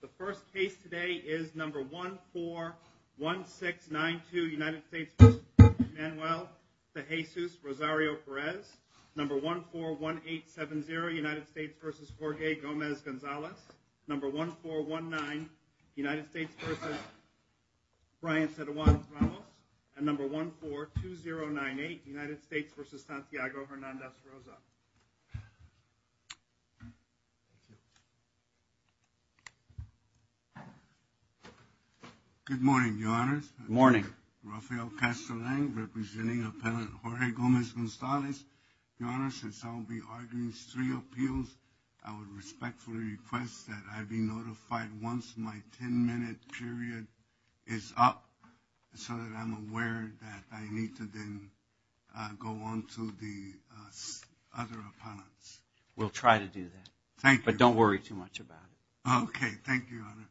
The first case today is number 141692 United States v. Manuel Cejesus-Rosario-Perez Number 141870 United States v. Jorge Gomez-Gonzalez Number 1419 United States v. Brian Teruano-Toronto And number 142098 United States v. Santiago Hernandez-Rosa Good morning, Your Honor. Good morning. Rafael Castellan, representing Appellant Jorge Gomez-Gonzalez. Your Honor, since I will be arguing three appeals, I would respectfully request that I be notified once my ten-minute period is up so that I'm aware that I need to then go on to the other appellants. We'll try to do that. But don't worry too much about it. Okay. Thank you, Your Honor.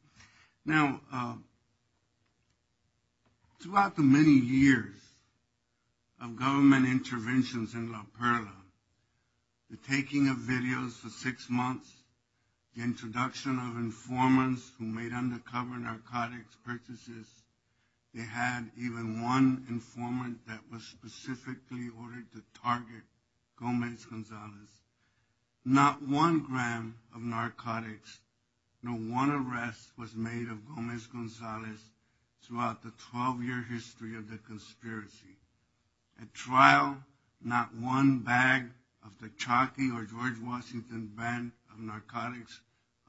Now, throughout the many years of government interventions in La Perla, the taking of videos for six months, the introduction of informants who made undercover narcotics purchases, they had even one informant that was specifically ordered to target Gomez-Gonzalez. Not one gram of narcotics, no one arrest was made of Gomez-Gonzalez throughout the 12-year history of the conspiracy. At trial, not one bag of the Chalky or George Washington brand of narcotics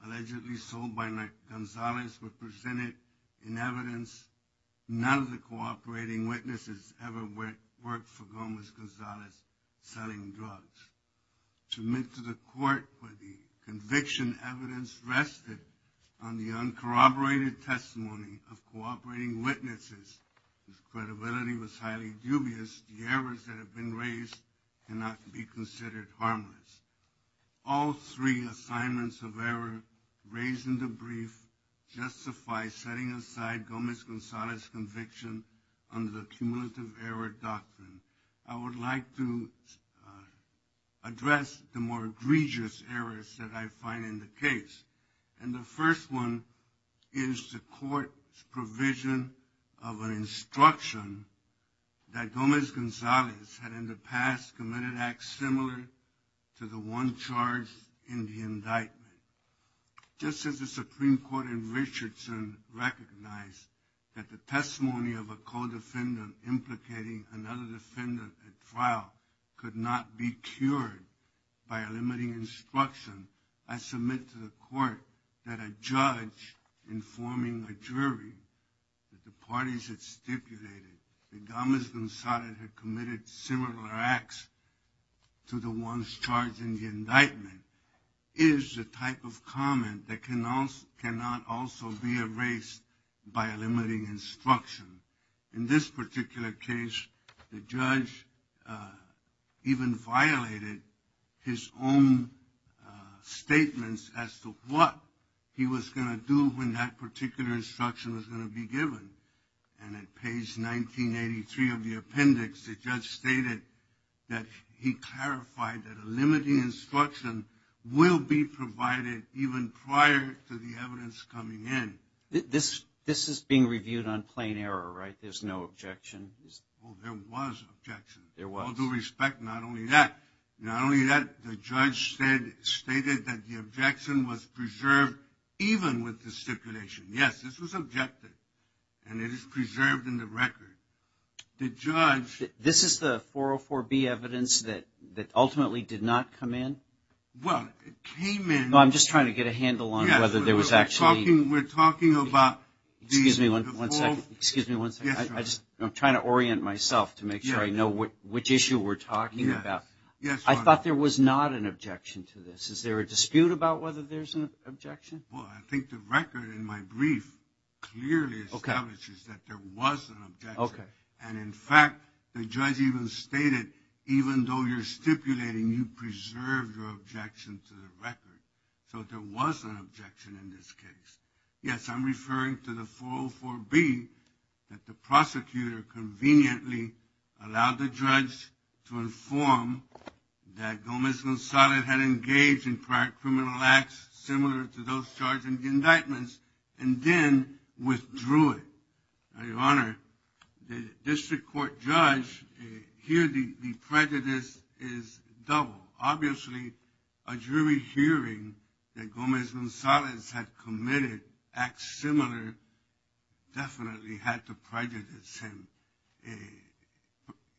allegedly sold by Gomez-Gonzalez were presented in evidence. None of the cooperating witnesses ever worked for Gomez-Gonzalez selling drugs. To admit to the court where the conviction evidence rested on the uncorroborated testimony of cooperating witnesses, if credibility was highly dubious, the errors that have been raised cannot be considered harmless. All three assignments of error raised in the brief justify setting aside Gomez-Gonzalez's conviction under the cumulative error doctrine. I would like to address the more egregious errors that I find in the case. And the first one is the court's provision of an instruction that Gomez-Gonzalez had in the past committed acts similar to the one charged in the indictment. Just as the Supreme Court in Richardson recognized that the testimony of a co-defendant implicating another defendant at trial could not be cured by a limiting instruction, I submit to the court that a judge informing a jury that the parties had stipulated that Gomez-Gonzalez had committed similar acts to the ones charged in the indictment is the type of comment that cannot also be erased by a limiting instruction. In this particular case, the judge even violated his own statements as to what he was going to do when that particular instruction was going to be given. And at page 1983 of the appendix, the judge stated that he clarified that a limiting instruction will be provided even prior to the evidence coming in. This is being reviewed on plain error, right? There's no objection? Well, there was objection. There was? With all due respect, not only that, the judge stated that the objection was preserved even with the stipulation. Yes, this was objected. And it is preserved in the record. The judge- This is the 404B evidence that ultimately did not come in? Well, it came in- I'm just trying to get a handle on whether there was actually- We're talking about the- Excuse me one second. I'm trying to orient myself to make sure I know which issue we're talking about. I thought there was not an objection to this. Is there a dispute about whether there's an objection? Well, I think the record in my brief clearly establishes that there was an objection. And, in fact, the judge even stated, even though you're stipulating you preserved your objection to the record, so there was an objection in this case. Yes, I'm referring to the 404B, that the prosecutor conveniently allowed the judge to inform that Gomez-Gonzalez had engaged in prior criminal acts similar to those charged in the indictments, and then withdrew it. Your Honor, the district court judge, here the prejudice is double. Obviously, a jury hearing that Gomez-Gonzalez had committed acts similar definitely had to prejudice him.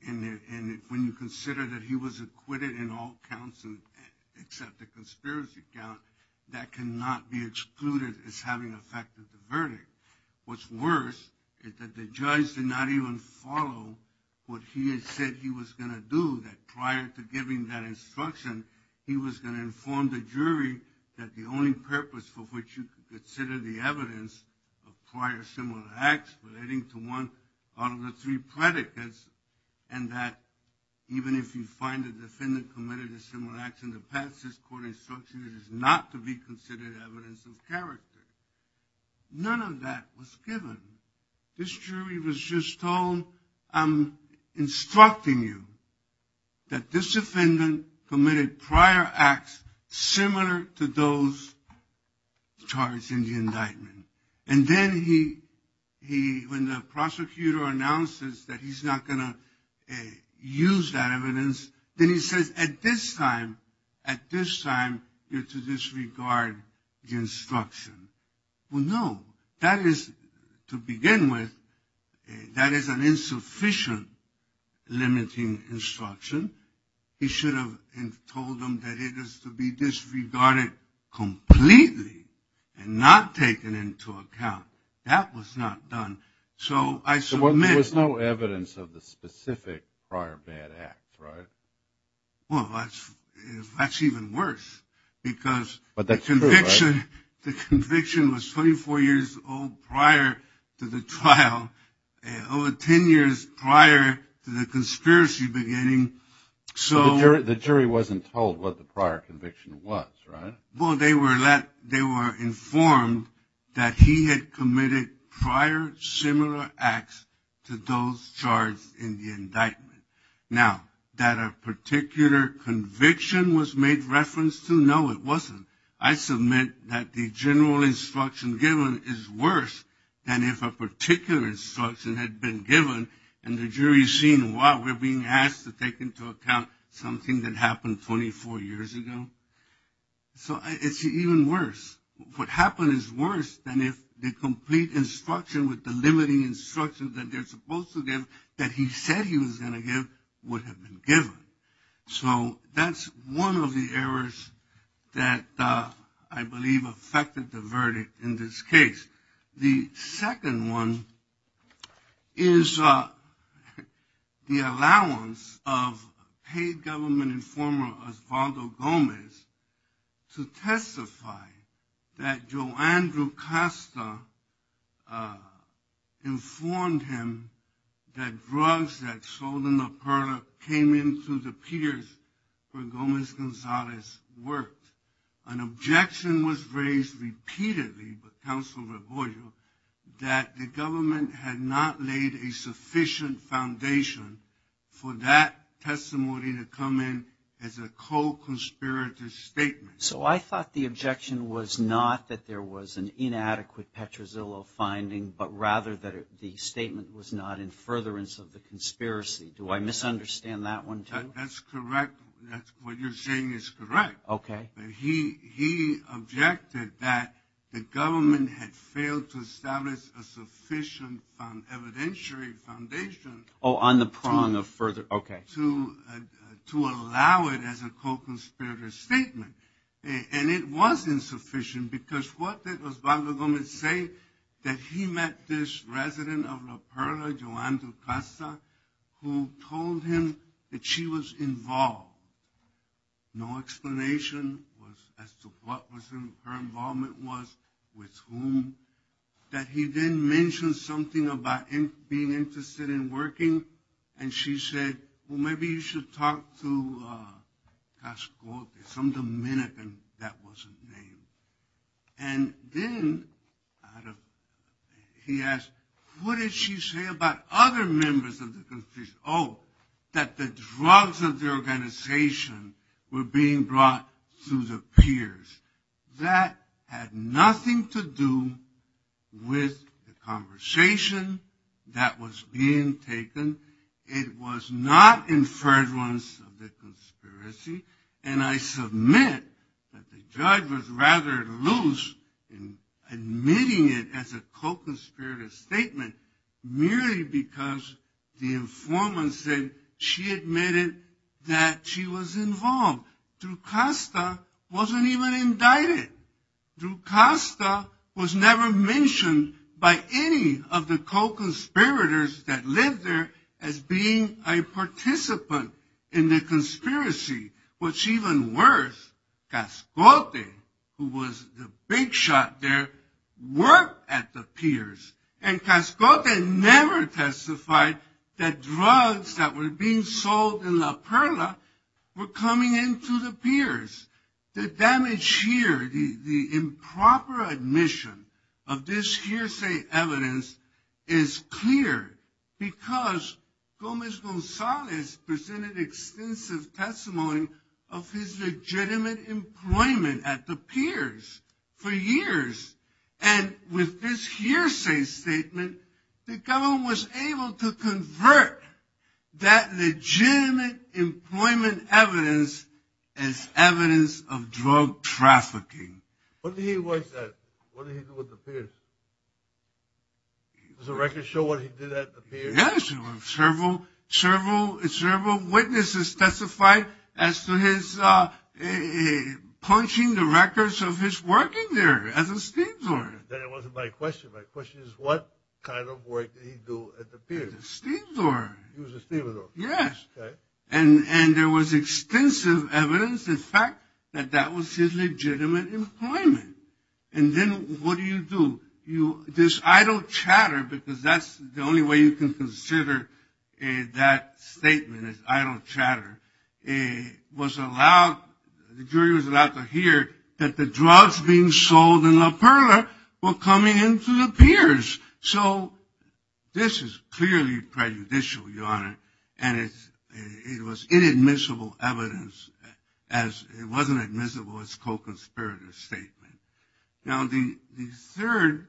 And when you consider that he was acquitted in all counts except the conspiracy count, that cannot be excluded as having affected the verdict. What's worse is that the judge did not even follow what he had said he was going to do, that prior to giving that instruction, he was going to inform the jury that the only purpose for which you could consider the evidence of prior similar acts relating to one out of the three predicates, and that even if you find a defendant committed a similar act in the past, this court instruction is not to be considered evidence of character. None of that was given. This jury was just told, I'm instructing you, that this defendant committed prior acts similar to those charged in the indictment. And then when the prosecutor announces that he's not going to use that evidence, then he says, at this time, at this time, you're to disregard the instruction. Well, no. That is, to begin with, that is an insufficient limiting instruction. He should have told them that it is to be disregarded completely and not taken into account. That was not done. So there was no evidence of the specific prior bad act, right? Well, that's even worse because the conviction was 24 years old prior to the trial, over 10 years prior to the conspiracy beginning. So the jury wasn't told what the prior conviction was, right? Well, they were informed that he had committed prior similar acts to those charged in the indictment. Now, that a particular conviction was made reference to, no, it wasn't. I submit that the general instruction given is worse than if a particular instruction had been given, and the jury's seen why we're being asked to take into account something that happened 24 years ago. So it's even worse. What happened is worse than if the complete instruction with the limiting instruction that they're supposed to give, that he said he was going to give, would have been given. So that's one of the errors that I believe affected the verdict in this case. The second one is the allowance of paid government informer Osvaldo Gomez to testify that for Gomez-Gonzalez's work. An objection was raised repeatedly with Counsel Regoio that the government had not laid a sufficient foundation for that testimony to come in as a co-conspirator statement. So I thought the objection was not that there was an inadequate Petrozzillo finding, but rather that the statement was not in furtherance of the conspiracy. Do I misunderstand that one, too? That's correct. What you're saying is correct. Okay. He objected that the government had failed to establish a sufficient evidentiary foundation. Oh, on the prong of further, okay. To allow it as a co-conspirator statement. And it was insufficient, because what did Osvaldo Gomez say? That he met this resident of La Perla, Joanne Ducasa, who told him that she was involved. No explanation as to what her involvement was, with whom. That he then mentioned something about being interested in working, and she said, well, maybe you should talk to some Dominican that wasn't named. And then he asked, what did she say about other members of the conspiracy? Oh, that the drugs of the organization were being brought to the peers. That had nothing to do with the conversation that was being taken. It was not in furtherance of the conspiracy. And I submit that the judge was rather loose in admitting it as a co-conspirator statement, merely because the informant said she admitted that she was involved. Ducasa wasn't even indicted. Ducasa was never mentioned by any of the co-conspirators that lived there as being a participant in the conspiracy, which even worse, Cascote, who was the big shot there, worked at the peers. And Cascote never testified that drugs that were being sold in La Perla were coming into the peers. The damage here, the improper admission of this hearsay evidence, is clear because Gomez Gonzalez presented extensive testimony of his legitimate employment at the peers for years. And with this hearsay statement, the government was able to convert that legitimate employment evidence as evidence of drug trafficking. What did he work at? What did he do at the peers? Does the record show what he did at the peers? Yes. Several witnesses testified as to his punching the records of his working there as a steamsword. That wasn't my question. My question is what kind of work did he do at the peers? A steamsword. He was a steamsword. Yes. Okay. And there was extensive evidence, in fact, that that was his legitimate employment. And then what do you do? This idle chatter, because that's the only way you can consider that statement is idle chatter, was allowed to hear that the drugs being sold in La Perla were coming into the peers. And it was inadmissible evidence as it wasn't admissible as a co-conspirator statement. Now, the third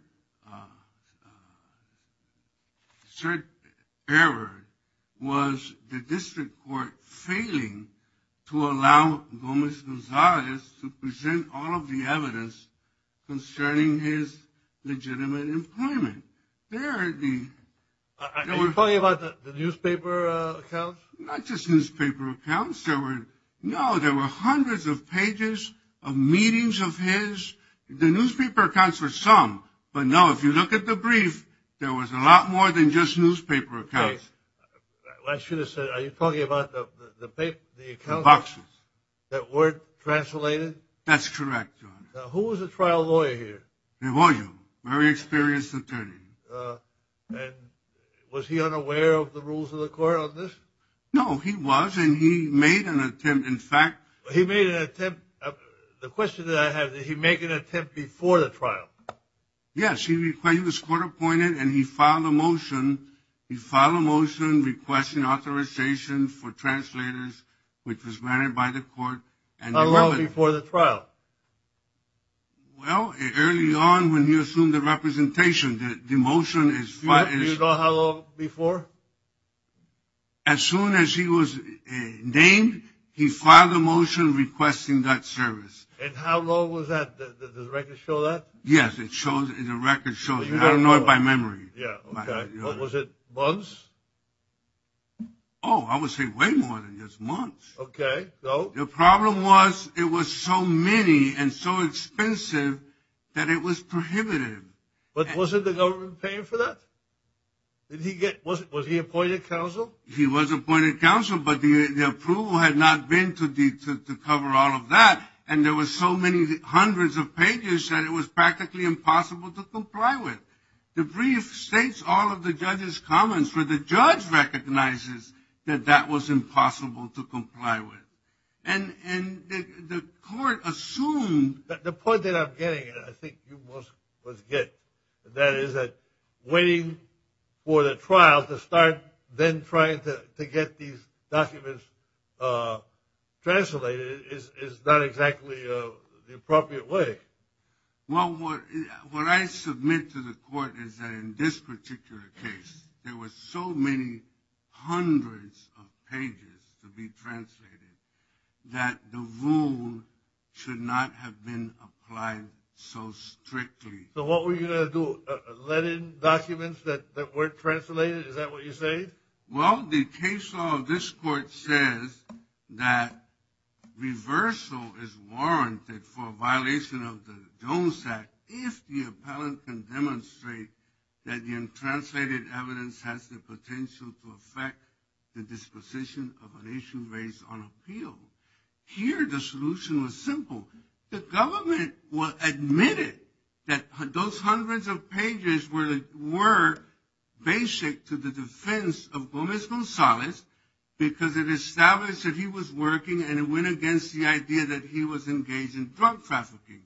error was the district court failing to allow Gomez Gonzalez to present all of the evidence concerning his legitimate employment. Are you talking about the newspaper accounts? Not just newspaper accounts. No, there were hundreds of pages of meetings of his. The newspaper accounts were some. But, no, if you look at the brief, there was a lot more than just newspaper accounts. I should have said, are you talking about the accounts that weren't translated? That's correct. Now, who was the trial lawyer here? Very experienced attorney. And was he unaware of the rules of the court on this? No, he was, and he made an attempt, in fact. He made an attempt. The question that I have, did he make an attempt before the trial? Yes, he was court appointed, and he filed a motion. He filed a motion requesting authorization for translators, which was granted by the court. How long before the trial? Well, early on, when you assume the representation, the motion is Do you know how long before? As soon as he was named, he filed a motion requesting that service. And how long was that? Does the record show that? Yes, the record shows that. I don't know it by memory. Was it months? Oh, I would say way more than just months. Okay. The problem was it was so many and so expensive that it was prohibited. But wasn't the government paying for that? Was he appointed counsel? He was appointed counsel, but the approval had not been to cover all of that, and there were so many hundreds of pages that it was practically impossible to comply with. The brief states all of the judge's comments, but the judge recognizes that that was impossible to comply with. And the court assumed The point that I'm getting, and I think you most of us get, that is that waiting for the trial to start, then trying to get these documents translated is not exactly the appropriate way. Well, what I submit to the court is that in this particular case, there were so many hundreds of pages to be translated that the rule should not have been applied so strictly. So what were you going to do, let in documents that weren't translated? Is that what you say? Well, the case law of this court says that reversal is warranted for a violation of the DOMES Act if the appellant can demonstrate that the untranslated evidence has the potential to affect the disposition of an issue raised on appeal. Here, the solution was simple. The government admitted that those hundreds of pages were basic to the defense of Gomez Gonzalez because it established that he was working, and it went against the idea that he was engaged in drug trafficking.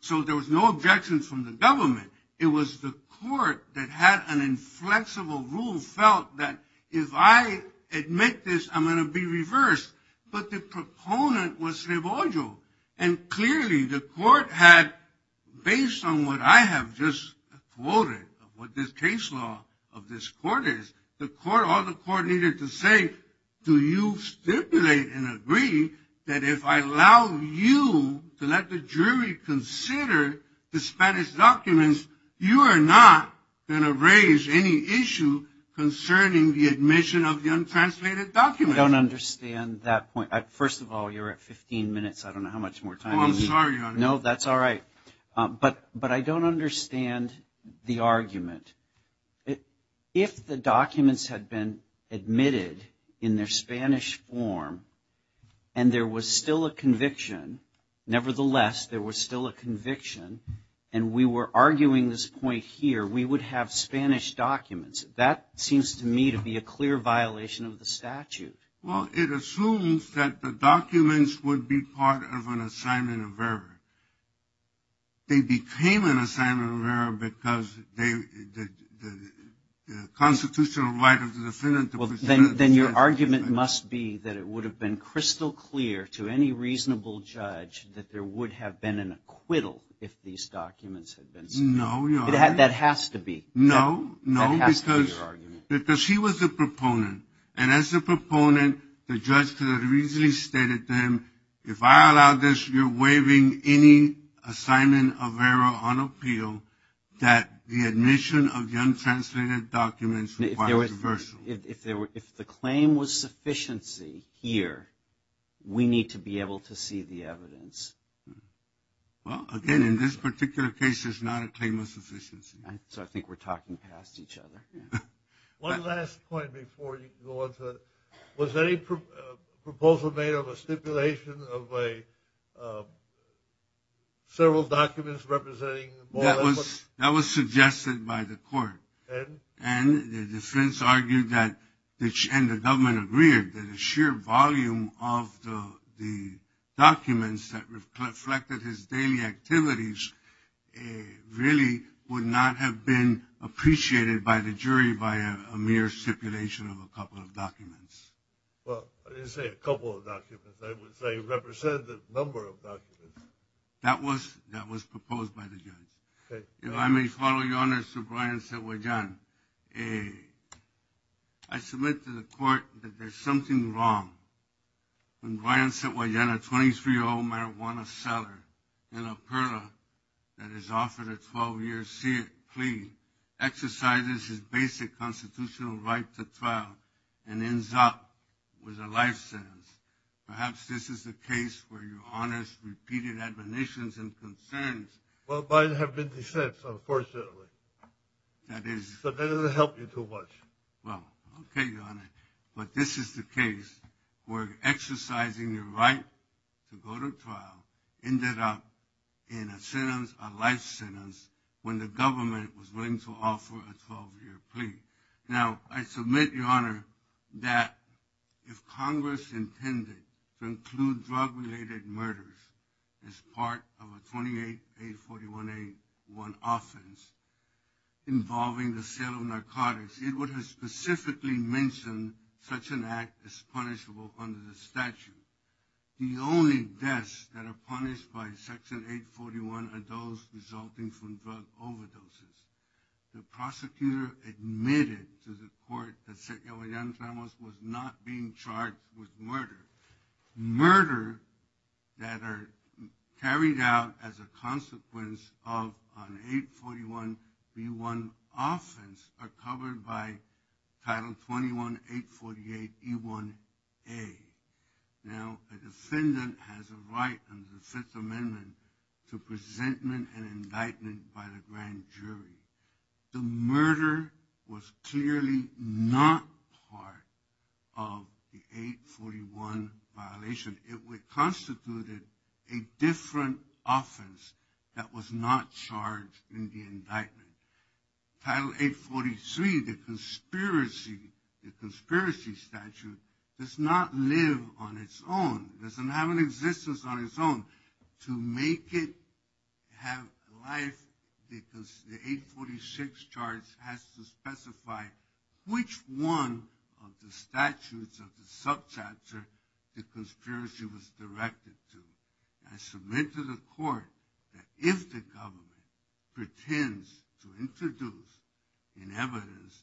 So there was no objections from the government. It was the court that had an inflexible rule felt that if I admit this, I'm going to be reversed. But the proponent was Scrivoggio, and clearly the court had, based on what I have just quoted, what this case law of this court is, the court, all the court needed to say, do you stipulate and agree that if I allow you to let the jury consider the Spanish documents, you are not going to raise any issue concerning the admission of the untranslated documents? I don't understand that point. First of all, you're at 15 minutes. I don't know how much more time you need. Oh, I'm sorry, Your Honor. No, that's all right. But I don't understand the argument. If the documents had been admitted in their Spanish form and there was still a conviction, nevertheless there was still a conviction, and we were arguing this point here, we would have Spanish documents. That seems to me to be a clear violation of the statute. Well, it assumes that the documents would be part of an assignment of error. They became an assignment of error because the constitutional right of the defendant to proceed. Well, then your argument must be that it would have been crystal clear to any reasonable judge that there would have been an acquittal if these documents had been submitted. No, Your Honor. That has to be. No, no, because he was a proponent. And as a proponent, the judge could have easily stated to him, if I allow this, you're waiving any assignment of error on appeal that the admission of the untranslated documents requires reversal. If the claim was sufficiency here, we need to be able to see the evidence. Well, again, in this particular case, there's not a claim of sufficiency. So I think we're talking past each other. One last point before you go on to it. Was there any proposal made of a stipulation of several documents representing? That was suggested by the court. And the defense argued that, and the government agreed, that the sheer volume of the documents that reflected his daily activities really would not have been appreciated by the jury by a mere stipulation of a couple of documents. Well, you say a couple of documents. They represented a number of documents. That was proposed by the jury. Okay. If I may follow you on this, to Brian Santuagin. I submit to the court that there's something wrong when Brian Santuagin, a 23-year-old marijuana seller in Alberta that is offered a 12-year plea, exercises his basic constitutional right to trial and ends up with a life sentence. Perhaps this is the case for your honest, repeated admonitions and concerns. Well, mine have been defense, unfortunately. That is. But that doesn't help you too much. Well, okay, Your Honor. But this is the case where exercising your right to go to trial ended up in a sentence, a life sentence, when the government was willing to offer a 12-year plea. Now, I submit, Your Honor, that if Congress intended to include drug-related murders as part of a 28A41A1 offense involving the sale of narcotics, it would have specifically mentioned such an act as punishable under the statute. The only deaths that are punished by Section 841 are those resulting from drug overdoses. The prosecutor admitted to the court that the young felon was not being charged with murder. Murder that are carried out as a consequence of an 841B1 offense are covered by Title 21-848E1A. Now, the defendant has a right under the Fifth Amendment to presentment and indictment by the grand jury. The murder was clearly not part of the 841 violation. It would constitute a different offense that was not charged in the indictment. Title 843, the conspiracy statute, does not live on its own, does not have an existence on its own to make it have life because the 846 charge has to specify which one of the statutes of the subchapter the conspiracy was directed to. I submit to the court that if the government pretends to introduce in evidence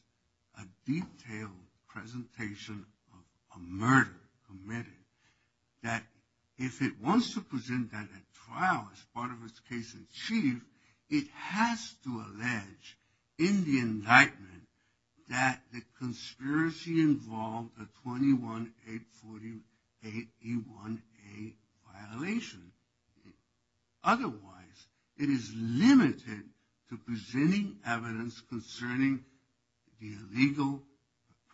a detailed presentation of a murder committed, that if it wants to present that at trial as part of its case in chief, it has to allege in the indictment that the conspiracy involved the 21-848E1A violation. Otherwise, it is limited to presenting evidence concerning the illegal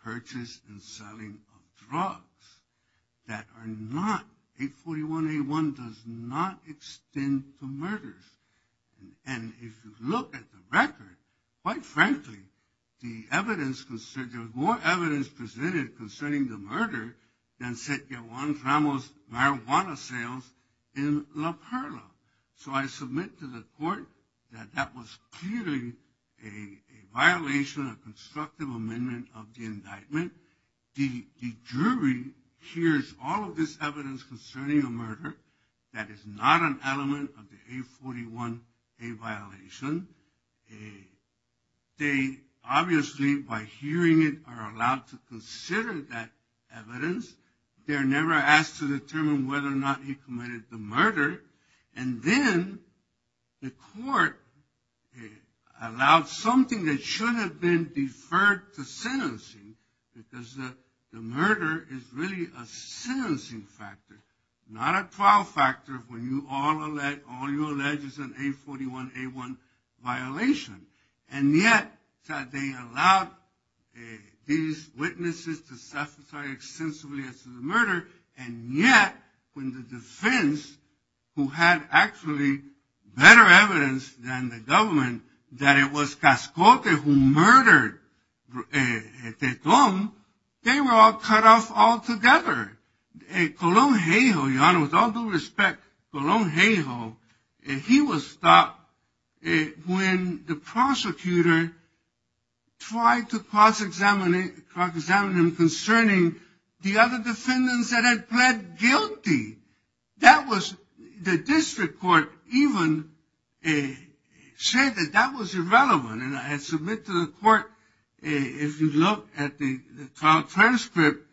purchase and selling of drugs that are not, 841A1 does not extend to murders. And if you look at the record, quite frankly, the evidence, there is more evidence presented concerning the murder than said Juan Ramos' marijuana sales in La Perla. So I submit to the court that that was clearly a violation of constructive amendment of the indictment. The jury hears all of this evidence concerning a murder that is not an element of the 841A violation. They obviously, by hearing it, are allowed to consider that evidence. They are never asked to determine whether or not he committed the murder. And then the court allowed something that should have been deferred to sentencing because the murder is really a sentencing factor, not a trial factor when all you allege is an 841A1 violation. And yet that they allowed these witnesses to sacrifice extensively to the murder, and yet when the defense, who had actually better evidence than the government, that it was Cascote who murdered Tetum, they were all cut off altogether. Colón-Gejo, Your Honor, with all due respect, Colón-Gejo, he was stopped when the prosecutor tried to cross-examine him concerning the other defendants that had pled guilty. The district court even said that that was irrelevant. And I submit to the court, if you look at the trial transcript,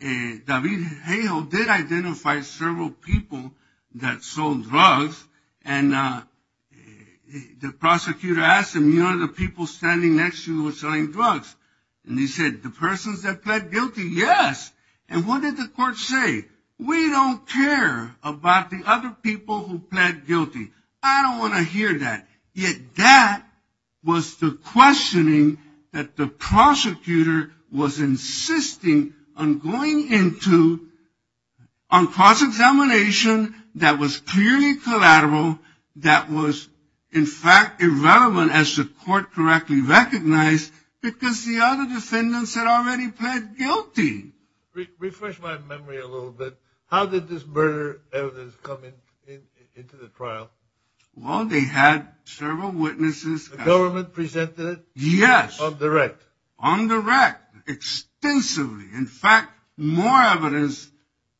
David Gejo did identify several people that sold drugs, and the prosecutor asked him, you know the people standing next to you selling drugs? And he said, the persons that pled guilty, yes. And what did the court say? We don't care about the other people who pled guilty. I don't want to hear that. Yet that was the questioning that the prosecutor was insisting on going into, on cross-examination that was clearly collateral, that was in fact irrelevant as the court correctly recognized, because the other defendants had already pled guilty. Refresh my memory a little bit. How did this murder evidence come into the trial? Well, they had several witnesses. The government presented it? Yes. On the rec? On the rec. Extensively. In fact, more evidence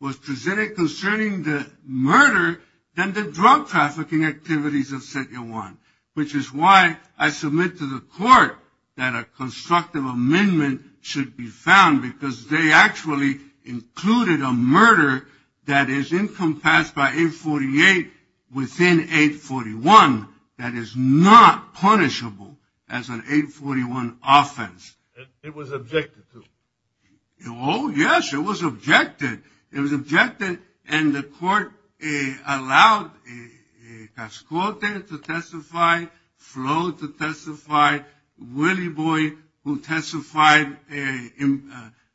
was presented concerning the murder than the drug-trafficking activities of Sergio Juan, which is why I submit to the court that a constructive amendment should be found, because they actually included a murder that is encompassed by 848 within 841 that is not punishable as an 841 offense. It was objected to. Oh, yes, it was objected. It was objected, and the court allowed Cascote to testify,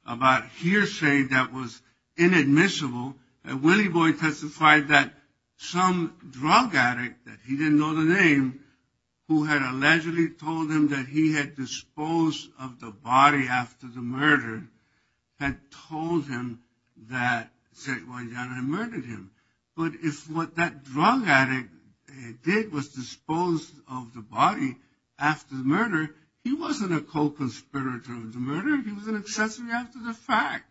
about hearsay that was inadmissible. Willie Boy testified that some drug addict, that he didn't know the name, who had allegedly told him that he had disposed of the body after the murder, had told him that Sergio Juan had murdered him. But if what that drug addict did was dispose of the body after the murder, he wasn't a co-conspirator of the murder. He was going to testify after the fact.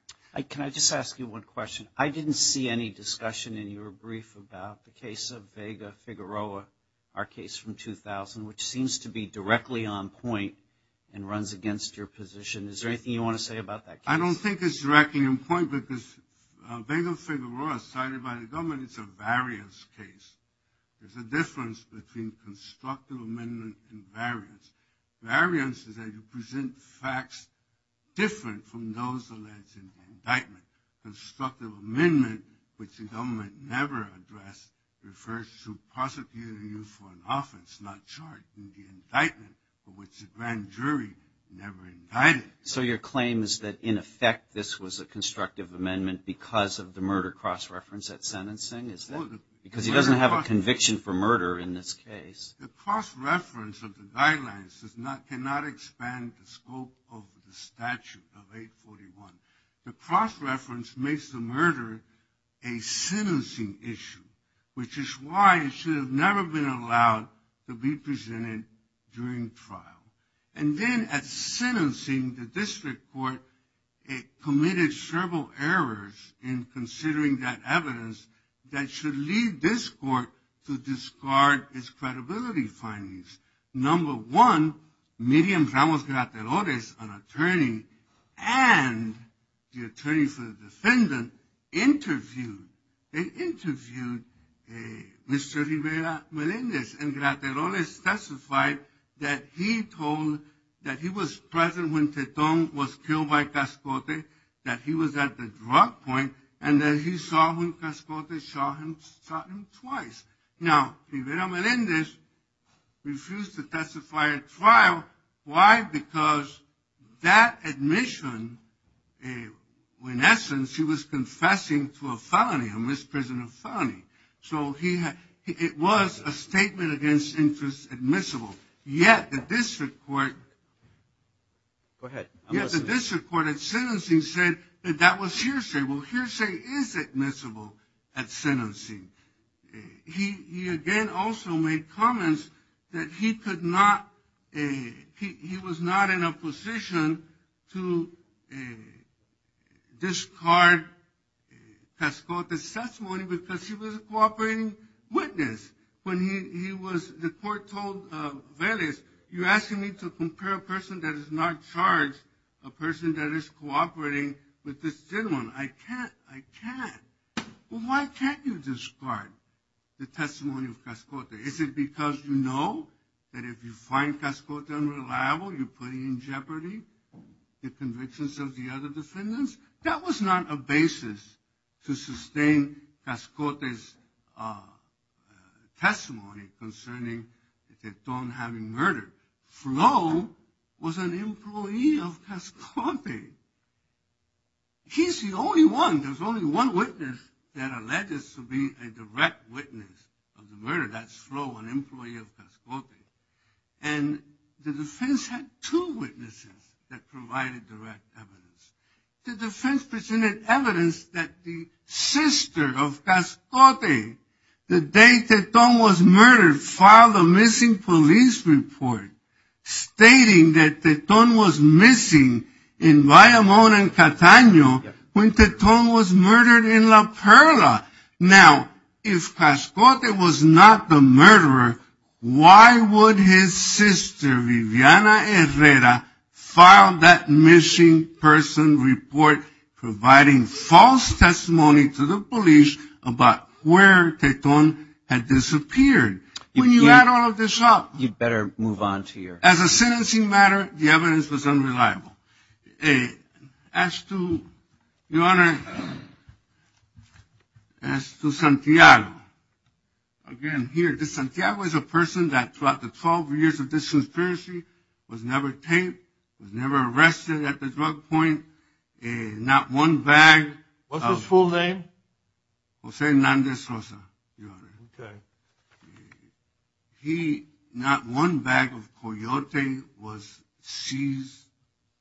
Can I just ask you one question? I didn't see any discussion in your brief about the case of Vega-Figueroa, our case from 2000, which seems to be directly on point and runs against your position. Is there anything you want to say about that case? I don't think it's directly on point, because Vega-Figueroa is cited by the government. It's a variance case. There's a difference between constructive amendment and variance. Variance is that you present facts different from those alleged in the indictment. Constructive amendment, which the government never addressed, refers to prosecuting you for an offense, not charge, in the indictment, for which the grand jury never indicted. So your claim is that, in effect, this was a constructive amendment because of the murder cross-reference at sentencing, is that it? Because he doesn't have a conviction for murder in this case. The cross-reference of the guidelines cannot expand the scope of the statute of 841. The cross-reference makes the murder a sentencing issue, which is why it should have never been allowed to be presented during trial. And then at sentencing, the district court committed several errors in considering that evidence that should lead this court to discard its credibility findings. Number one, Miriam Ramos-Gratelores, an attorney, and the attorney for the defendant interviewed and interviewed Mr. Rivera-Melendez. And Gratelores specified that he told that he was present when Tetón was killed by Cascote, that he was at the drug point, and that he saw when Cascote shot him twice. Now, Rivera-Melendez refused to testify at trial. Why? Because that admission, in essence, he was confessing to a felony, a misprisoned felony. So it was a statement against interest admissible. Yet the district court at sentencing said that that was hearsay. Well, hearsay is admissible at sentencing. He again also made comments that he was not in a position to discard Cascote's testimony because he was a cooperating witness. The court told Vélez, you actually need to compare a person that is not charged to a person that is cooperating with this gentleman. I can't. I can't. Well, why can't you discard the testimony of Cascote? Is it because you know that if you find Cascote unreliable, you're putting in jeopardy the convictions of the other defendants? That was not a basis to sustain Cascote's testimony concerning the dethroned having murdered. Flo was an employee of Cascote. He's the only one. There's only one witness that alleges to be a direct witness of the murder. That's Flo, an employee of Cascote. And the defense had two witnesses that provided direct evidence. The defense presented evidence that the sister of Cascote, the day Teton was murdered, filed a missing police report stating that Teton was missing in Guayamón and Catano when Teton was murdered in La Perla. Now, if Cascote was not the murderer, why would his sister Viviana Herrera file that missing person report providing false testimony to the police about where Teton had disappeared when you had all of the shots? You'd better move on to your... As a sentencing matter, the evidence was unreliable. As to, Your Honor, as to Santiago, again, here, this Santiago is a person that throughout the 12 years of this conspiracy was never tamed, was never arrested at the drug point, and not one bag of... What's his full name? Jose Hernandez Rosa, Your Honor. Okay. He, not one bag of Coyote was seized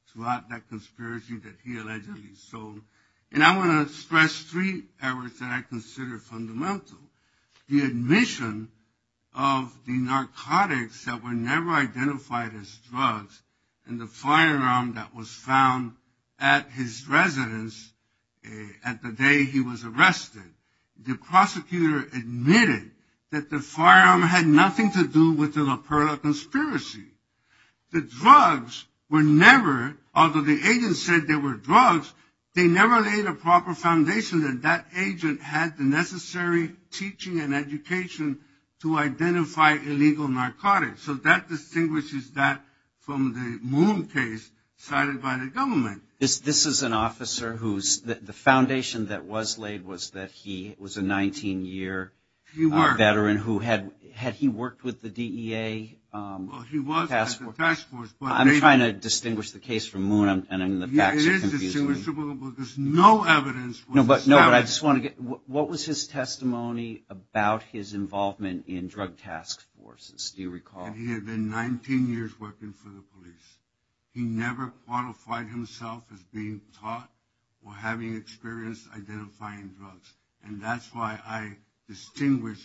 throughout that conspiracy that he allegedly sold. And I want to stress three areas that I consider fundamental. The admission of the narcotics that were never identified as drugs and the firearm that was found at his residence at the day he was arrested. The prosecutor admitted that the firearm had nothing to do with the La Perla conspiracy. The drugs were never, although the agent said they were drugs, they never laid a proper foundation that that agent had the necessary teaching and education to identify illegal narcotics. So that distinguishes that from the Moon case cited by the government. This is an officer whose, the foundation that was laid was that he was a 19-year veteran who had, had he worked with the DEA? Well, he was at the task force. I'm trying to distinguish the case from Moon, and I'm in the back. It is distinguishable, but there's no evidence. No, but I just want to get, what was his testimony about his involvement in drug task forces? Do you recall? He had been 19 years working for the police. He never qualified himself as being caught or having experience identifying drugs, and that's why I distinguish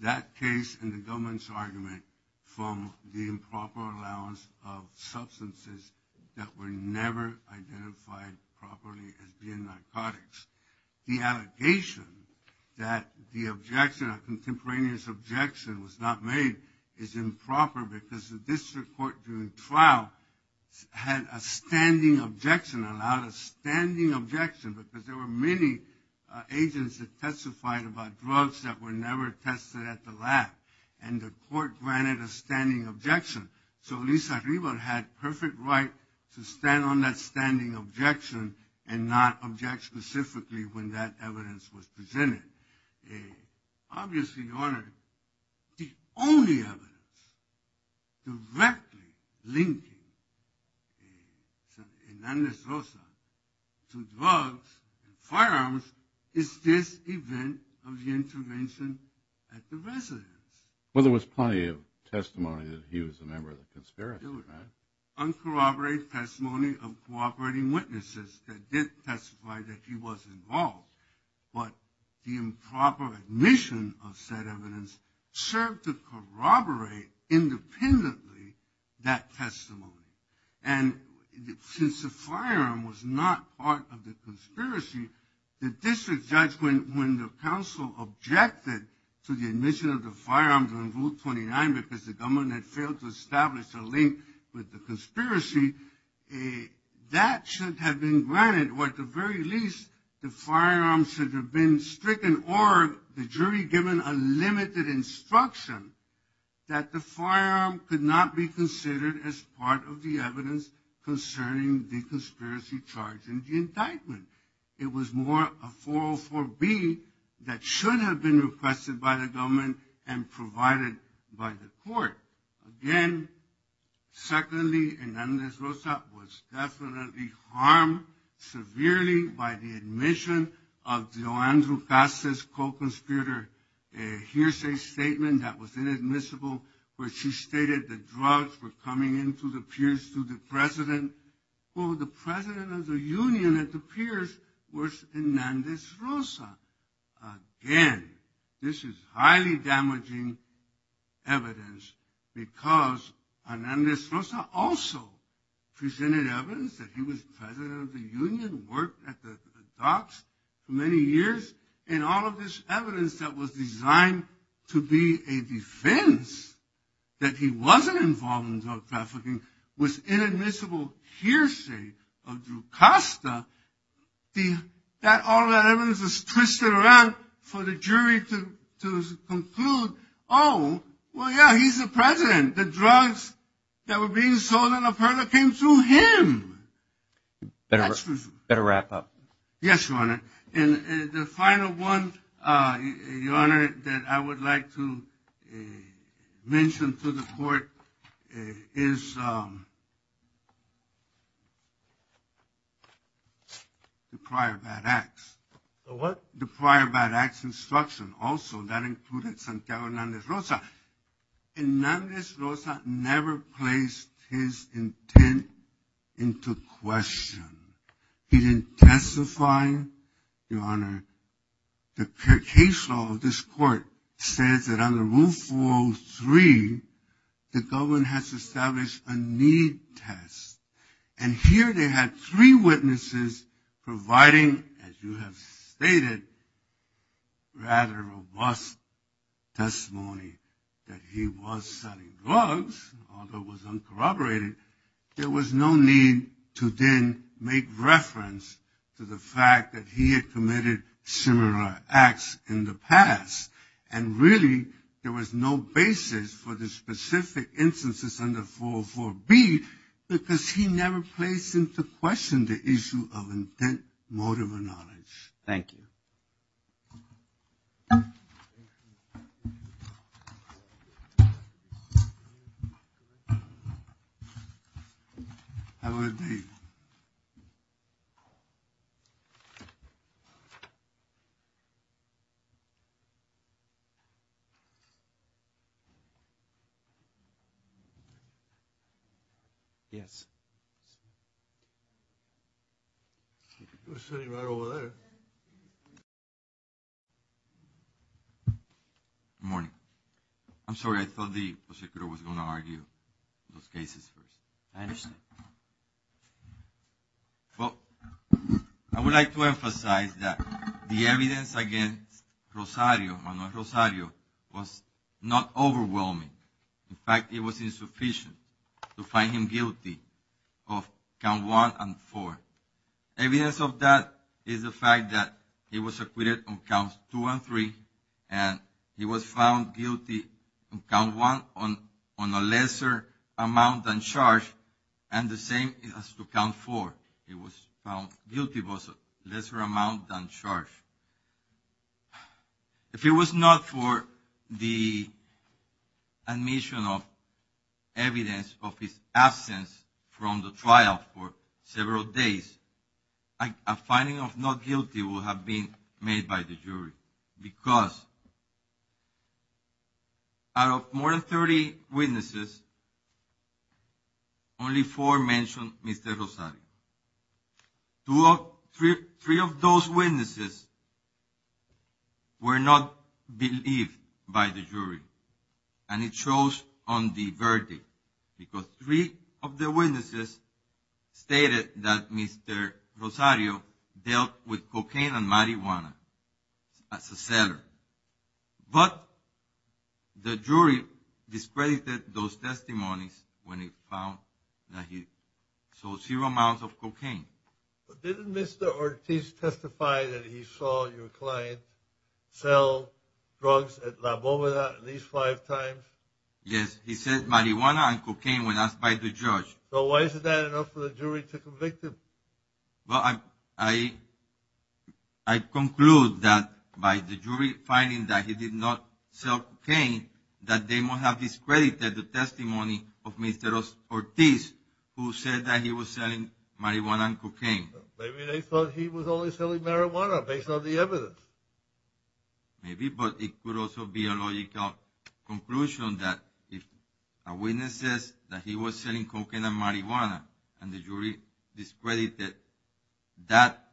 that case and the government's argument from the improper allowance of substances that were never identified properly as being narcotics. The allegation that the objection, a contemporaneous objection was not made is improper because the district court during trial had a standing objection, allowed a standing objection because there were many agents that testified about drugs that were never tested at the lab, and the court granted a standing objection. So Luis Arriba had perfect right to stand on that standing objection and not object specifically when that evidence was presented. Obviously, your Honor, the only evidence directly linking Hernandez Rosa to drugs and firearms is this event of the intervention at the residence. Well, there was plenty of testimony that he was a member of the conspiracy. There was uncorroborated testimony of cooperating witnesses that did testify that he was involved, but the improper admission of said evidence served to corroborate independently that testimony. And since the firearm was not part of the conspiracy, the district judge, when the counsel objected to the admission of the firearms on Rule 29 because the government had failed to establish a link with the conspiracy, that should have been granted, or at the very least, the firearm should have been stricken or the jury given unlimited instruction that the firearm could not be considered as part of the evidence concerning the conspiracy charge in the indictment. It was more a 404B that should have been requested by the government and provided by the court. Again, secondly, Hernandez Rosa was definitely harmed severely by the admission of Joanne Ducasis' co-conspirator in a hearsay statement that was inadmissible where she stated that drugs were coming into the piers through the president. Well, the president of the union at the piers was Hernandez Rosa. Again, this is highly damaging evidence because Hernandez Rosa also presented evidence that he was president of the union, worked at the docks for many years, and all of this evidence that was designed to be a defense that he wasn't involved in drug trafficking was inadmissible hearsay of Ducasis. All of that evidence was twisted around for the jury to conclude, oh, well, yeah, he's the president. The drugs that were being sold in La Perla came through him. Better wrap up. Yes, Your Honor. The final one, Your Honor, that I would like to mention to the court is the prior bad acts. The what? The prior bad acts instruction. Also, that included Santiago Hernandez Rosa. Hernandez Rosa never placed his intent into question. He didn't testify, Your Honor. The case law of this court said that under Rule 403, the government has to establish a need test. And here they had three witnesses providing, as you have stated, rather robust testimony that he was selling drugs, although it was uncorroborated. There was no need to then make reference to the fact that he had committed similar acts in the past. And really, there was no basis for the specific instances under 404B because he never placed into question the issue of intent, motive, or knowledge. Thank you. I will read. Yes. Good morning. I'm sorry. I thought the prosecutor was going to argue those cases. I understand. Well, I would like to emphasize that the evidence against Rosario, or not Rosario, was not overwhelming. In fact, it was insufficient to find him guilty of Count 1 and 4. Evidence of that is the fact that he was acquitted on Counts 2 and 3, and he was found guilty on Count 1 on a lesser amount than charge, and the same as to Count 4. He was found guilty on a lesser amount than charge. If it was not for the admission of evidence of his absence from the trial for several days, a finding of not guilty would have been made by the jury because out of more than 30 witnesses, only four mentioned Mr. Rosario. Three of those witnesses were not believed by the jury, and it shows on the verdict because three of the witnesses stated that Mr. Rosario dealt with cocaine and marijuana as a seller, but the jury discredited those testimonies when it found that he sold zero amounts of cocaine. But didn't Mr. Ortiz testify that he saw your client sell drugs at La Boma at least five times? Yes, he said marijuana and cocaine were not by the judge. So why is that enough for the jury to convict him? Well, I conclude that by the jury finding that he did not sell cocaine, that they must have discredited the testimony of Mr. Ortiz who said that he was selling marijuana and cocaine. Maybe they thought he was only selling marijuana based on the evidence. Maybe, but it could also be a logical conclusion that if a witness says that he was selling cocaine and marijuana and the jury discredited that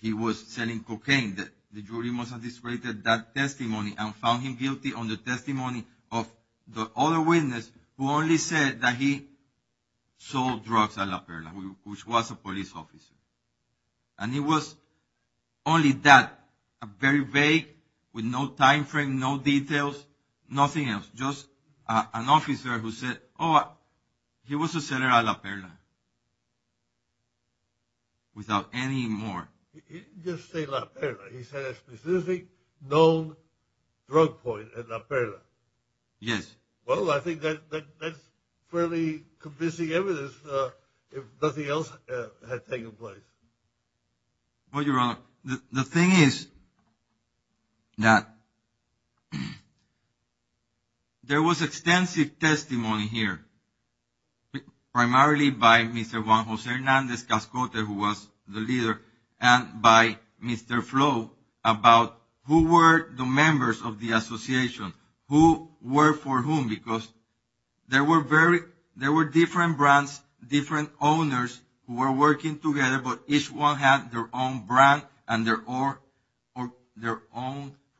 he was selling cocaine, that the jury must have discredited that testimony and found him guilty on the testimony of the other witness who only said that he sold drugs at La Perla, which was a police officer. And it was only that, very vague, with no time frame, no details, nothing else. Just an officer who said, oh, he was a seller at La Perla, without any more. He didn't just say La Perla. He said a specific known drug point at La Perla. Yes. Well, I think that's fairly convincing evidence if nothing else has taken place. Well, Your Honor, the thing is that there was extensive testimony here, primarily by Mr. Juan Jose Hernandez Cascote, who was the leader, and by Mr. Flo about who were the members of the association, who worked for whom, because there were different brands, different owners who were working together, but each one had their own brand and their own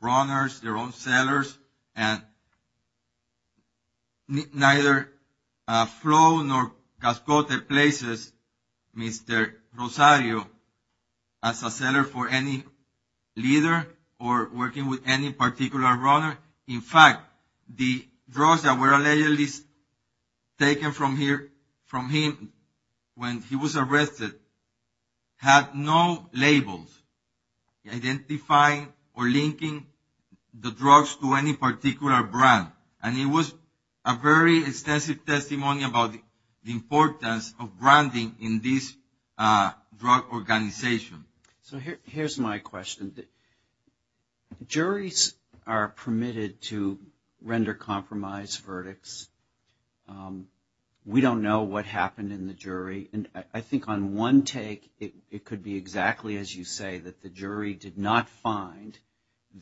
runners, their own sellers. And neither Flo nor Cascote places Mr. Rosario as a seller for any leader or working with any particular runner. In fact, the drugs that were allegedly taken from him when he was arrested had no labels identifying or linking the drugs to any particular brand. And it was a very extensive testimony about the importance of branding in this drug organization. So here's my question. Juries are permitted to render compromise verdicts. We don't know what happened in the jury. And I think on one take, it could be exactly as you say, that the jury did not find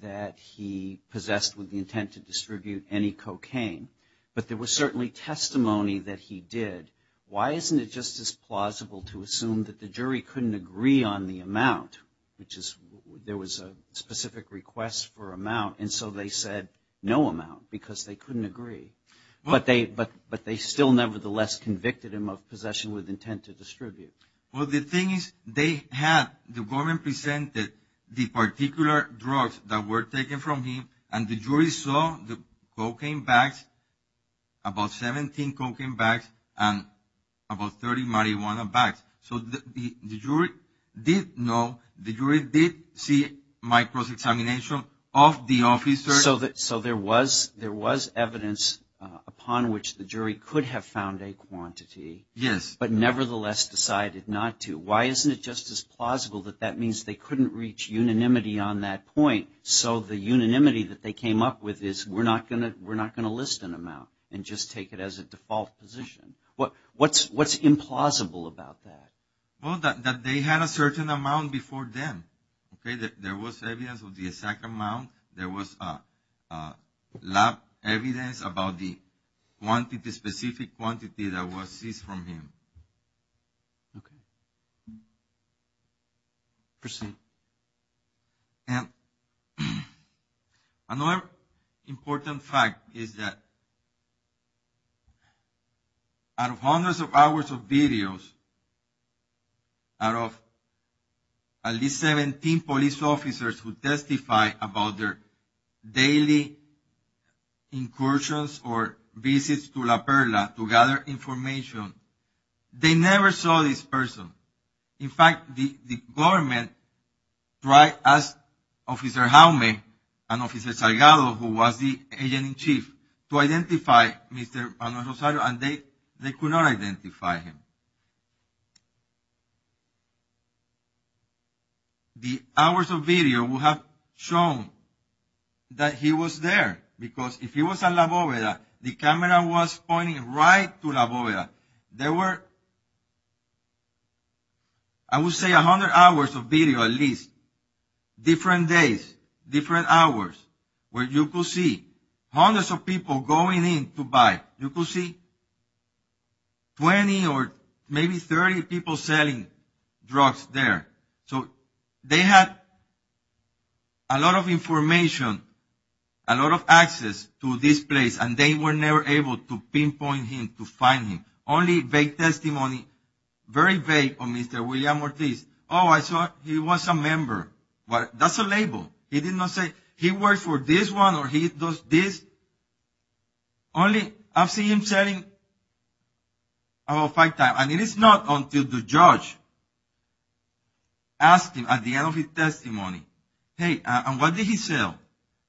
that he possessed with the intent to distribute any cocaine. But there was certainly testimony that he did. Why isn't it just as plausible to assume that the jury couldn't agree on the amount, which is there was a specific request for amount, and so they said no amount because they couldn't agree. But they still nevertheless convicted him of possession with intent to distribute. Well, the thing is they had the woman presented the particular drugs that were taken from him, and the jury saw the cocaine bags, about 17 cocaine bags, and about 30 marijuana bags. So the jury did know, the jury did see microdetamination of the officer. So there was evidence upon which the jury could have found a quantity. Yes. But nevertheless decided not to. Why isn't it just as plausible that that means they couldn't reach unanimity on that point, so the unanimity that they came up with is we're not going to list an amount and just take it as a default position. What's implausible about that? Well, that they had a certain amount before them. There was evidence of the exact amount. There was lab evidence about the quantity, specific quantity that was seized from him. Okay. Appreciate it. And another important fact is that out of hundreds of hours of videos, out of at least 17 police officers who testified about their daily incursions or visits to La Perla to gather information, they never saw this person. In fact, the government tried to ask Officer Jaume and Officer Salgado, who was the agent in chief, to identify Mr. Palo Rosario, and they could not identify him. The hours of video would have shown that he was there, because if he was at La Boveda, the camera was pointing right to La Boveda. There were, I would say, 100 hours of video at least, different days, different hours, where you could see hundreds of people going in to buy. You could see 20 or maybe 30 people selling drugs there. So they had a lot of information, a lot of access to this place, and they were never able to pinpoint him, to find him. Only vague testimony. Very vague on Mr. William Ortiz. Oh, I saw he was a member. That's a label. He did not say he worked for this one or he does this. Only I've seen him saying about five times. And it is not until the judge asked him at the end of his testimony, hey, and what did he sell?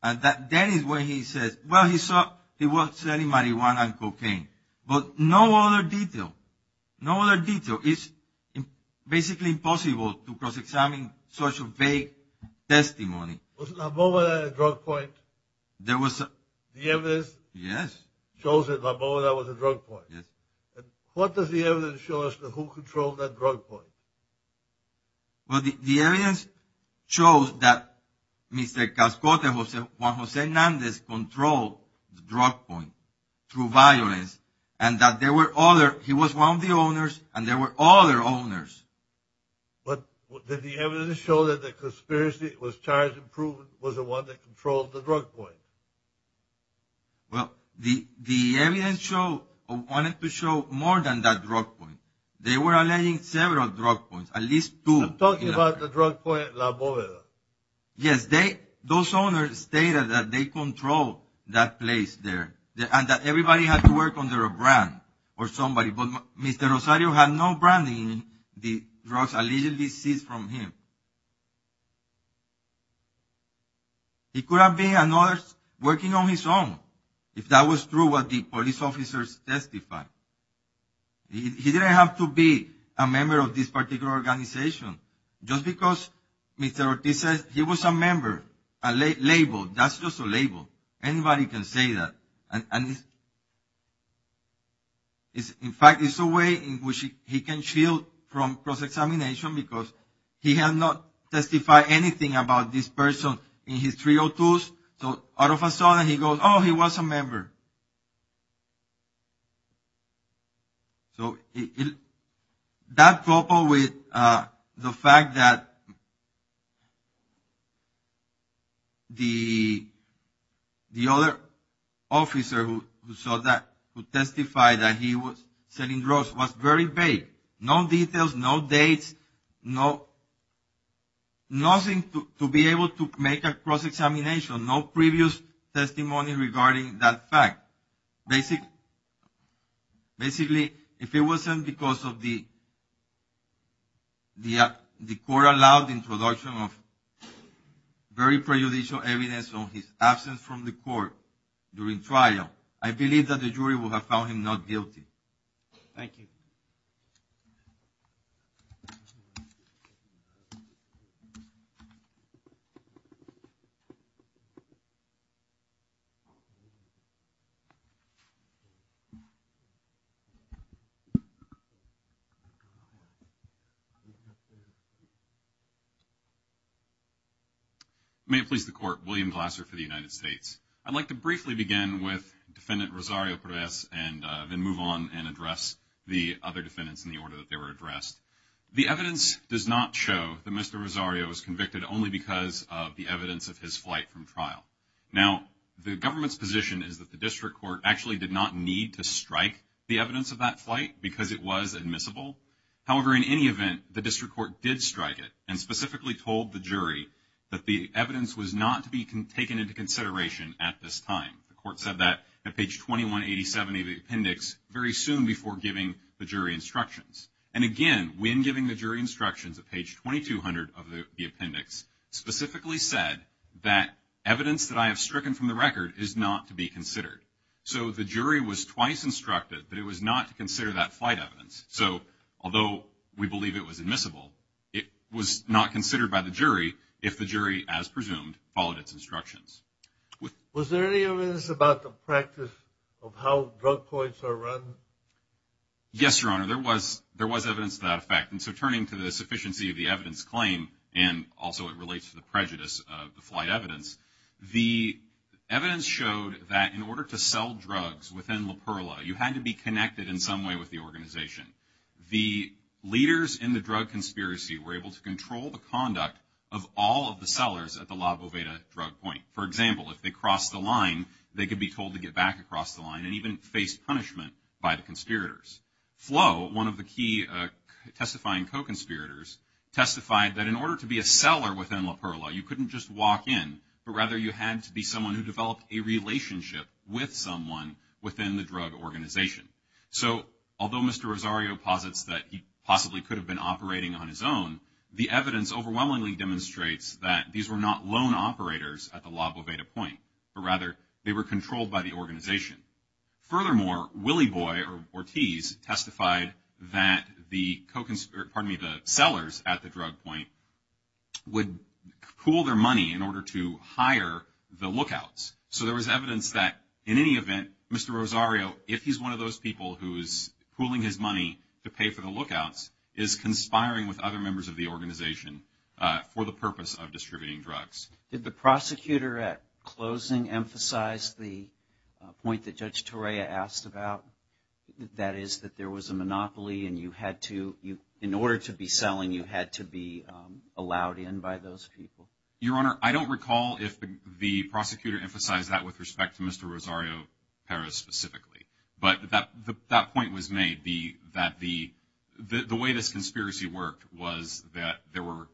And that is when he says, well, he was selling marijuana and cocaine. But no other detail. No other detail. It's basically impossible to cross-examine such a vague testimony. Was La Boveda a drug point? The evidence shows that La Boveda was a drug point. What does the evidence show us, and who controlled that drug point? Well, the evidence shows that Mr. Cascosa, Juan Jose Hernandez, controlled the drug point through violence, and that there were others. He was one of the owners, and there were other owners. But did the evidence show that the conspiracy was charged and proven was the one that controlled the drug point? Well, the evidence wanted to show more than that drug point. They were alleging several drug points, at least two. I'm talking about the drug point at La Boveda. Yes, those owners stated that they controlled that place there and that everybody had to work under a brand or somebody. But Mr. Rosario had no branding in the drugs allegedly seized from him. He could have been another working on his own, if that was true, what the police officers testified. He didn't have to be a member of this particular organization. Just because Mr. Ortiz says he was a member, a label, that's just a label. Anybody can say that. In fact, it's a way in which he can shield from cross-examination because he has not testified anything about this person in his 302s, so all of a sudden he goes, oh, he was a member. So that's coupled with the fact that the other officer who saw that, who testified that he was selling drugs, was very vague. No details, no date, nothing to be able to make a cross-examination, no previous testimony regarding that fact. Basically, if it wasn't because of the court-allowed introduction of very prejudicial evidence of his absence from the court during trial, I believe that the jury would have found him not guilty. Thank you. May it please the Court. William Glasser for the United States. I'd like to briefly begin with Defendant Rosario Perez and then move on and address the other defendants in the order that they were addressed. The evidence does not show that Mr. Rosario was convicted only because of the evidence of his flight from trial. Now, the government's position is that the district court actually did not need to strike the evidence of that flight because it was admissible. However, in any event, the district court did strike it and specifically told the jury that the evidence was not to be taken into consideration at this time. The court said that at page 2187 of the appendix very soon before giving the jury instructions. And again, when giving the jury instructions, at page 2200 of the appendix, specifically said that evidence that I have stricken from the record is not to be considered. So the jury was twice instructed that it was not to consider that flight evidence. So although we believe it was admissible, it was not considered by the jury if the jury, as presumed, followed its instructions. Was there any evidence about the practice of how drug courts are run? Yes, Your Honor, there was evidence to that effect. And so turning to the sufficiency of the evidence claim, and also it relates to the prejudice of the flight evidence, the evidence showed that in order to sell drugs within La Perla, you had to be connected in some way with the organization. The leaders in the drug conspiracy were able to control the conduct of all of the sellers at the La Boveda drug point. For example, if they crossed the line, they could be told to get back across the line and even face punishment by the conspirators. Flo, one of the key testifying co-conspirators, testified that in order to be a seller within La Perla, you couldn't just walk in, but rather you had to be someone who developed a relationship with someone within the drug organization. So although Mr. Rosario posits that he possibly could have been operating on his own, the evidence overwhelmingly demonstrates that these were not lone operators at the La Boveda point, but rather they were controlled by the organization. Furthermore, Willie Boy, or Ortiz, testified that the sellers at the drug point would pool their money in order to hire the lookouts. So there was evidence that in any event, Mr. Rosario, if he's one of those people who is pooling his money to pay for the lookouts, is conspiring with other members of the organization for the purpose of distributing drugs. Did the prosecutor at closing emphasize the point that Judge Torreya asked about? That is, that there was a monopoly and in order to be selling, you had to be allowed in by those people? Your Honor, I don't recall if the prosecutor emphasized that with respect to Mr. Rosario Perez specifically. But that point was made, that the way the conspiracy worked was that there were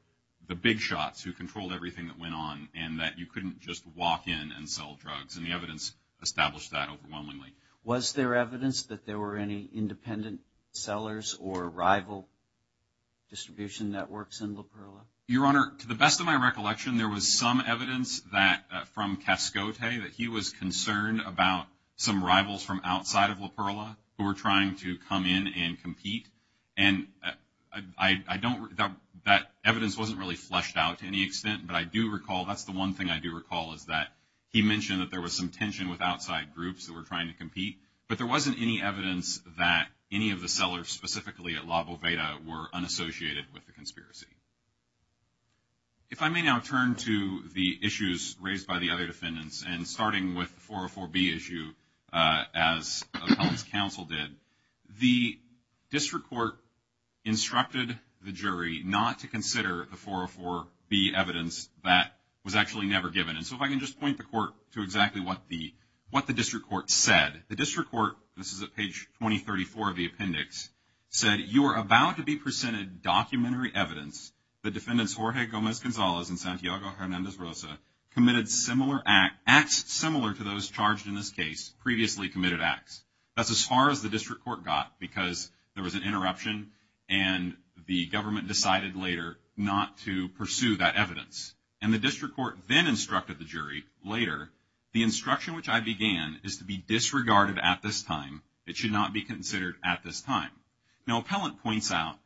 the big shots who controlled everything that went on, and that you couldn't just walk in and sell drugs. And the evidence established that overwhelmingly. Was there evidence that there were any independent sellers or rival distribution networks in La Perla? Your Honor, to the best of my recollection, there was some evidence from Cascote that he was concerned about some rivals from outside of La Perla who were trying to come in and compete. And that evidence wasn't really fleshed out to any extent, but I do recall, that's the one thing I do recall, is that he mentioned that there was some tension with outside groups who were trying to compete, but there wasn't any evidence that any of the sellers, specifically at La Boveda, were unassociated with the conspiracy. If I may now turn to the issues raised by the other defendants, and starting with the 404B issue, as the public counsel did, the district court instructed the jury not to consider the 404B evidence that was actually never given. And so if I can just point the court to exactly what the district court said. The district court, this is at page 2034 of the appendix, said, you are about to be presented documentary evidence that defendants Jorge Gomez-Gonzalez and Santiago Hernandez-Rosa committed similar acts, similar to those charged in this case, previously committed acts. That's as far as the district court got, because there was an interruption and the government decided later not to pursue that evidence. And the district court then instructed the jury later, the instruction which I began is to be disregarded at this time. It should not be considered at this time. Now, Appellant points out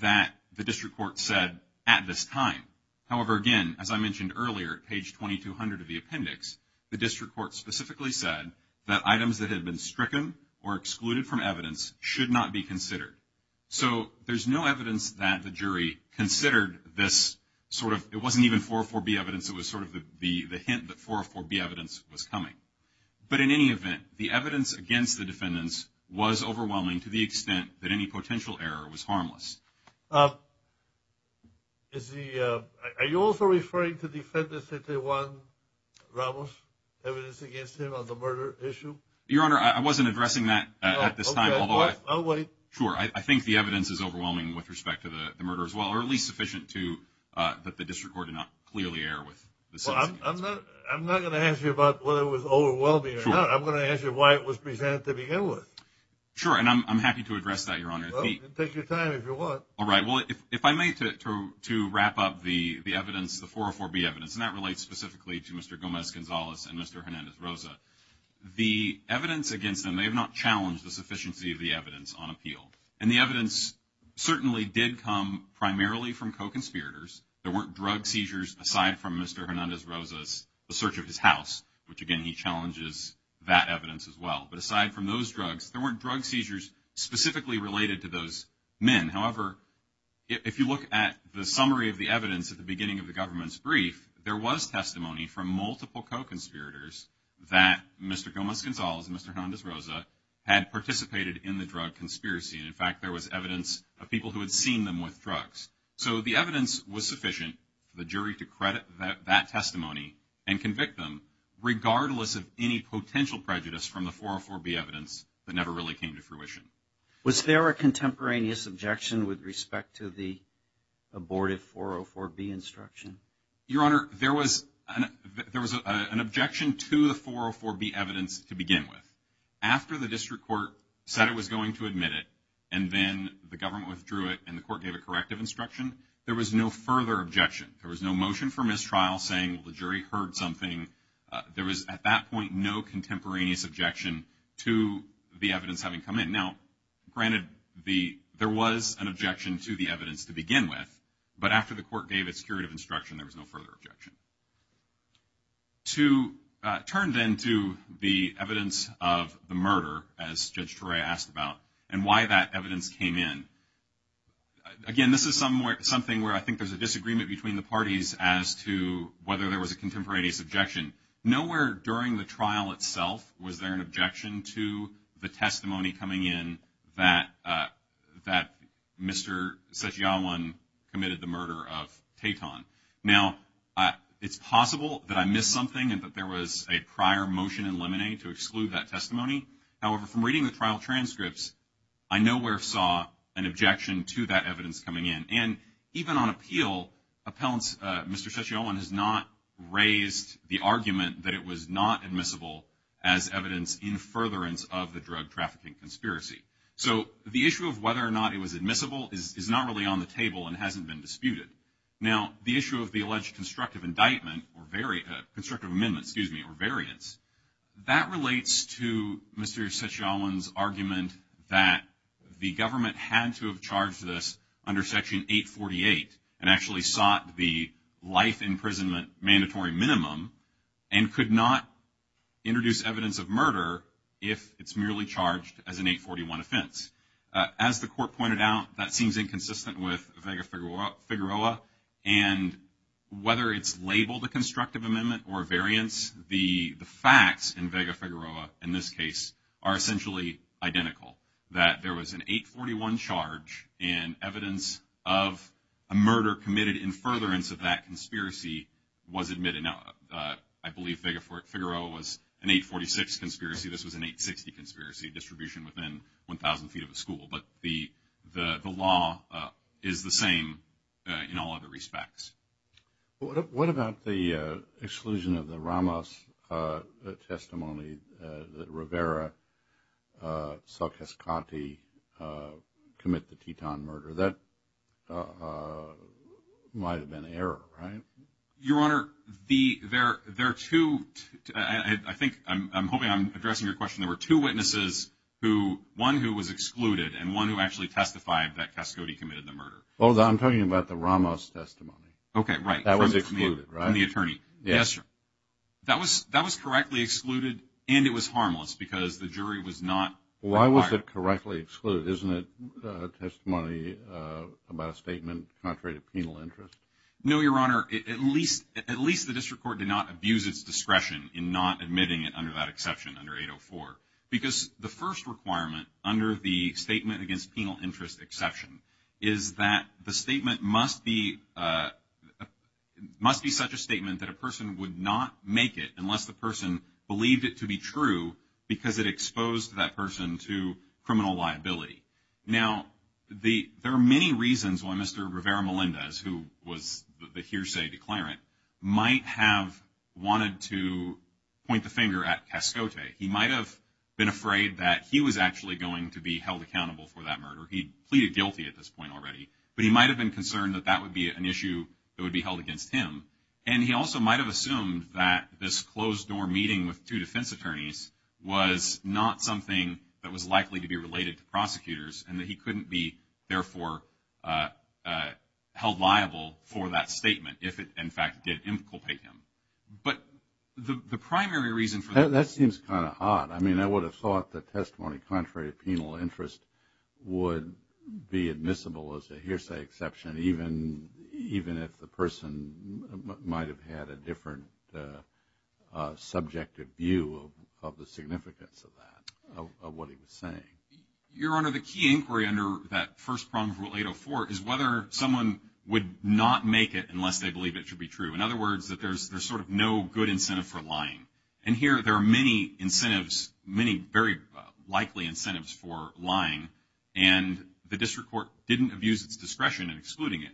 that the district court said, at this time. However, again, as I mentioned earlier, page 2200 of the appendix, the district court specifically said that items that had been stricken or excluded from evidence should not be considered. So there's no evidence that the jury considered this sort of, it wasn't even 404B evidence, it was sort of the hint that 404B evidence was coming. But in any event, the evidence against the defendants was overwhelming to the extent that any potential error was harmless. Are you also referring to the defendants that they won, Ramos, evidence against him on the murder issue? Your Honor, I wasn't addressing that at this time. I'll wait. Sure, I think the evidence is overwhelming with respect to the murder as well, or at least sufficient to, that the district court did not clearly err with. I'm not going to ask you about whether it was overwhelming or not. I'm going to ask you why it was presented to begin with. Sure, and I'm happy to address that, Your Honor. Take your time if you want. All right, well, if I may, to wrap up the evidence, the 404B evidence, and that relates specifically to Mr. Gomez-Gonzalez and Mr. Hernandez-Rosa. The evidence against them, they have not challenged the sufficiency of the evidence on appeal. And the evidence certainly did come primarily from co-conspirators. There weren't drug seizures aside from Mr. Hernandez-Rosa's search of his house, which, again, he challenges that evidence as well. But aside from those drugs, there weren't drug seizures specifically related to those men. However, if you look at the summary of the evidence at the beginning of the government's brief, there was testimony from multiple co-conspirators that Mr. Gomez-Gonzalez and Mr. Hernandez-Rosa had participated in the drug conspiracy. And, in fact, there was evidence of people who had seen them with drugs. So the evidence was sufficient for the jury to credit that testimony and convict them regardless of any potential prejudice from the 404B evidence that never really came to fruition. Was there a contemporaneous objection with respect to the aborted 404B instruction? Your Honor, there was an objection to the 404B evidence to begin with. After the district court said it was going to admit it and then the government withdrew it and the court gave a corrective instruction, there was no further objection. There was no motion for mistrial saying, well, the jury heard something. There was, at that point, no contemporaneous objection to the evidence having come in. Now, granted, there was an objection to the evidence to begin with, but after the court gave its curative instruction, there was no further objection. To turn then to the evidence of the murder, as Judge Torrey asked about, and why that evidence came in. Again, this is something where I think there's a disagreement between the parties as to whether there was a contemporaneous objection. Nowhere during the trial itself was there an objection to the testimony coming in that Mr. Sesayawan committed the murder of Kayton. Now, it's possible that I missed something and that there was a prior motion in limine to exclude that testimony. However, from reading the trial transcripts, I nowhere saw an objection to that evidence coming in. And even on appeal, Mr. Sesayawan has not raised the argument that it was not admissible as evidence in furtherance of the drug trafficking conspiracy. So the issue of whether or not it was admissible is not really on the table and hasn't been disputed. Now, the issue of the alleged constructive amendment or variance, that relates to Mr. Sesayawan's argument that the government had to have charged this under Section 848 and actually sought the life imprisonment mandatory minimum and could not introduce evidence of murder if it's merely charged as an 841 offense. As the court pointed out, that seems inconsistent with Vega-Figueroa, and whether it's labeled a constructive amendment or a variance, the facts in Vega-Figueroa in this case are essentially identical, that there was an 841 charge, and evidence of a murder committed in furtherance of that conspiracy was admitted. Now, I believe Vega-Figueroa was an 846 conspiracy. This was an 860 conspiracy, distribution within 1,000 feet of the school. But the law is the same in all other respects. What about the exclusion of the Ramos testimony, that Rivera saw Cascati commit the Teton murder? That might have been error, right? Your Honor, there are two, I think, I'm hoping I'm addressing your question, there were two witnesses, one who was excluded and one who actually testified that Cascati committed the murder. Hold on, I'm talking about the Ramos testimony. Okay, right. That was excluded, right? The attorney. Yes, sir. That was correctly excluded, and it was harmless, because the jury was not required. Why was it correctly excluded? Isn't it testimony about a statement contrary to penal interest? No, Your Honor, at least the district court did not abuse its discretion in not admitting it under that exception, under 804. Because the first requirement under the statement against penal interest exception is that the statement must be such a statement that a person would not make it unless the person believed it to be true because it exposed that person to criminal liability. Now, there are many reasons why Mr. Rivera Melendez, who was the hearsay declarant, might have wanted to point the finger at Cascati. He might have been afraid that he was actually going to be held accountable for that murder. He pleaded guilty at this point already. But he might have been concerned that that would be an issue that would be held against him. And he also might have assumed that this closed-door meeting with two defense attorneys was not something that was likely to be related to prosecutors and that he couldn't be, therefore, held liable for that statement if it, in fact, did implicate him. But the primary reason for that. That seems kind of odd. I mean, I would have thought the testimony contrary to penal interest would be admissible as a hearsay exception, even if the person might have had a different subjective view of the significance of that, of what he was saying. Your Honor, the key inquiry under that first problem of Rule 804 is whether someone would not make it unless they believe it to be true. In other words, that there's sort of no good incentive for lying. And here there are many incentives, many very likely incentives for lying. And the district court didn't abuse its discretion in excluding it.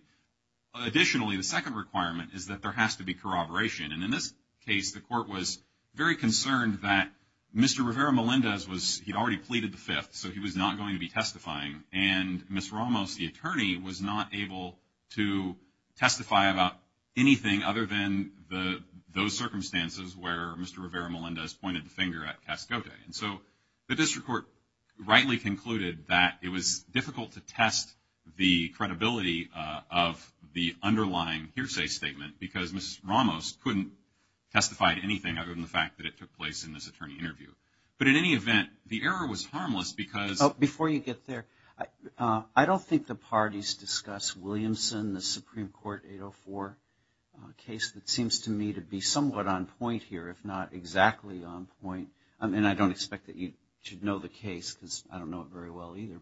Additionally, the second requirement is that there has to be corroboration. And in this case, the court was very concerned that Mr. Rivera-Melendez, he had already pleaded the fifth, so he was not going to be testifying. And Ms. Ramos, the attorney, was not able to testify about anything other than those circumstances where Mr. Rivera-Melendez pointed the finger at Cascote. And so the district court rightly concluded that it was difficult to test the credibility of the underlying hearsay statement because Ms. Ramos couldn't testify to anything other than the fact that it took place in this attorney interview. But in any event, the error was harmless because— Before you get there, I don't think the parties discussed Williamson, the Supreme Court 804 case that seems to me to be somewhat on point here, if not exactly on point. And I don't expect that you should know the case because I don't know it very well either.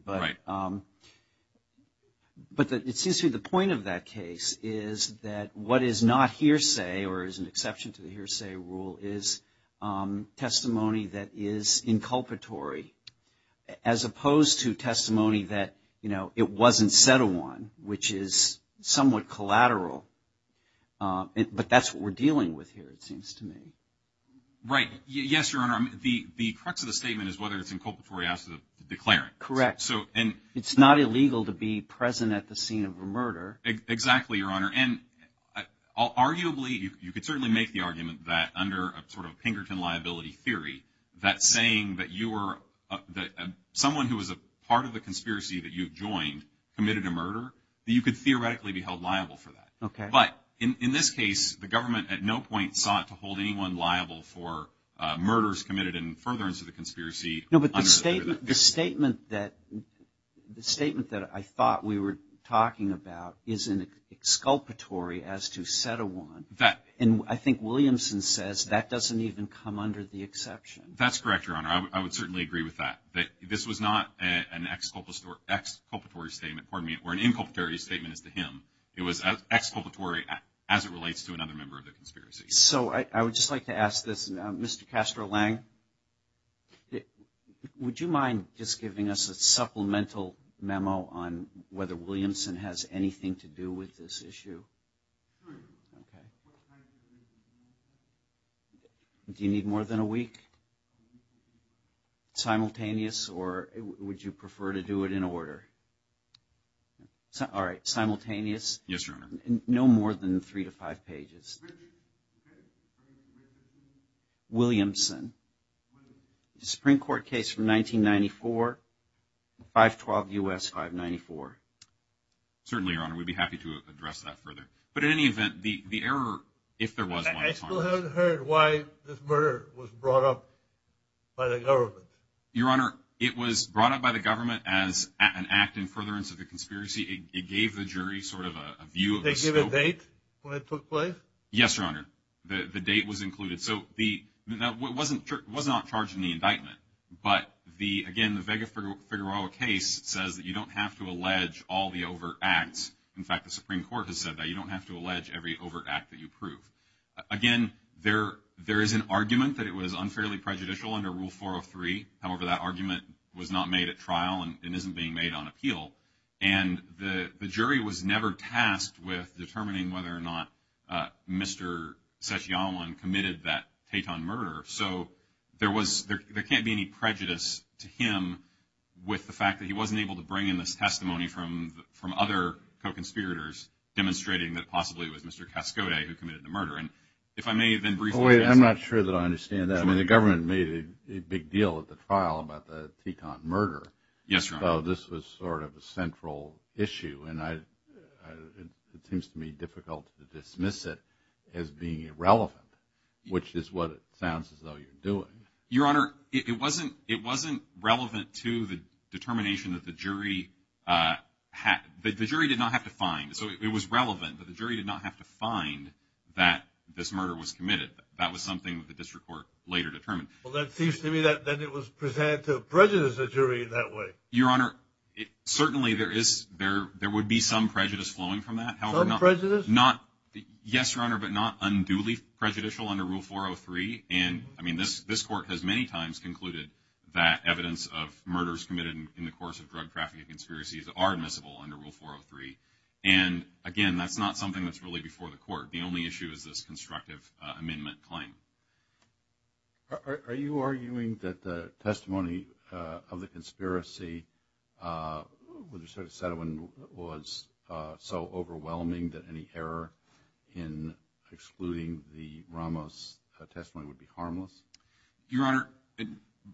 But it seems to me the point of that case is that what is not hearsay or is an exception to the hearsay rule is testimony that is inculpatory as opposed to testimony that, you know, it wasn't said to one, which is somewhat collateral. But that's what we're dealing with here, it seems to me. Right. Yes, Your Honor. The crux of the statement is whether it's inculpatory as to the declarant. Correct. It's not illegal to be present at the scene of a murder. Exactly, Your Honor. And arguably, you could certainly make the argument that under a sort of Pinkerton liability theory, that saying that you were— someone who was a part of the conspiracy that you joined committed a murder, that you could theoretically be held liable for that. Okay. But in this case, the government at no point sought to hold anyone liable for murders committed in furtherance of the conspiracy. No, but the statement that I thought we were talking about is inculpatory as to set a woman. And I think Williamson says that doesn't even come under the exception. That's correct, Your Honor. I would certainly agree with that, that this was not an exculpatory statement for me or an inculpatory statement to him. It was exculpatory as it relates to another member of the conspiracy. So I would just like to ask this, Mr. Castro-Lang, would you mind just giving us a supplemental memo on whether Williamson has anything to do with this issue? Do you need more than a week? Simultaneous, or would you prefer to do it in order? All right, simultaneous? Yes, Your Honor. No more than three to five pages. Williamson, Supreme Court case from 1994, 512 U.S. 594. Certainly, Your Honor, we'd be happy to address that further. But in any event, the error, if there was one, I still haven't heard why this murder was brought up by the government. Your Honor, it was brought up by the government as an act in furtherance of the conspiracy. It gave the jury sort of a view of the scope. Did they give a date when it took place? Yes, Your Honor. The date was included. So it was not charged in the indictment. But, again, the Vega-Fedorova case says that you don't have to allege all the overt acts. In fact, the Supreme Court has said that you don't have to allege every overt act that you prove. Again, there is an argument that it was unfairly prejudicial under Rule 403. However, that argument was not made at trial and isn't being made on appeal. And the jury was never tasked with determining whether or not Mr. Sechianwan committed that Teton murder. So there can't be any prejudice to him with the fact that he wasn't able to bring in this testimony from other co-conspirators demonstrating that possibly it was Mr. Cascode who committed the murder. And if I may, then briefly— I'm not sure that I understand that. I mean, the government made a big deal at the trial about the Teton murder. Yes, Your Honor. So this was sort of a central issue. And it seems to me difficult to dismiss it as being irrelevant, which is what it sounds as though you're doing. Your Honor, it wasn't relevant to the determination that the jury— the jury did not have to find—it was relevant, but the jury did not have to find that this murder was committed. That was something that the district court later determined. Well, that seems to me that it was presented to prejudice, the jury, in that way. Your Honor, certainly there would be some prejudice flowing from that. Some prejudice? Yes, Your Honor, but not unduly prejudicial under Rule 403. And, I mean, this court has many times concluded that evidence of murders committed in the course of drug trafficking conspiracies are admissible under Rule 403. And, again, that's not something that's really before the court. The only issue is this constructive amendment claim. Are you arguing that the testimony of the conspiracy under Secretary Satterwin was so overwhelming that any error in excluding the Ramos testimony would be harmless? Your Honor,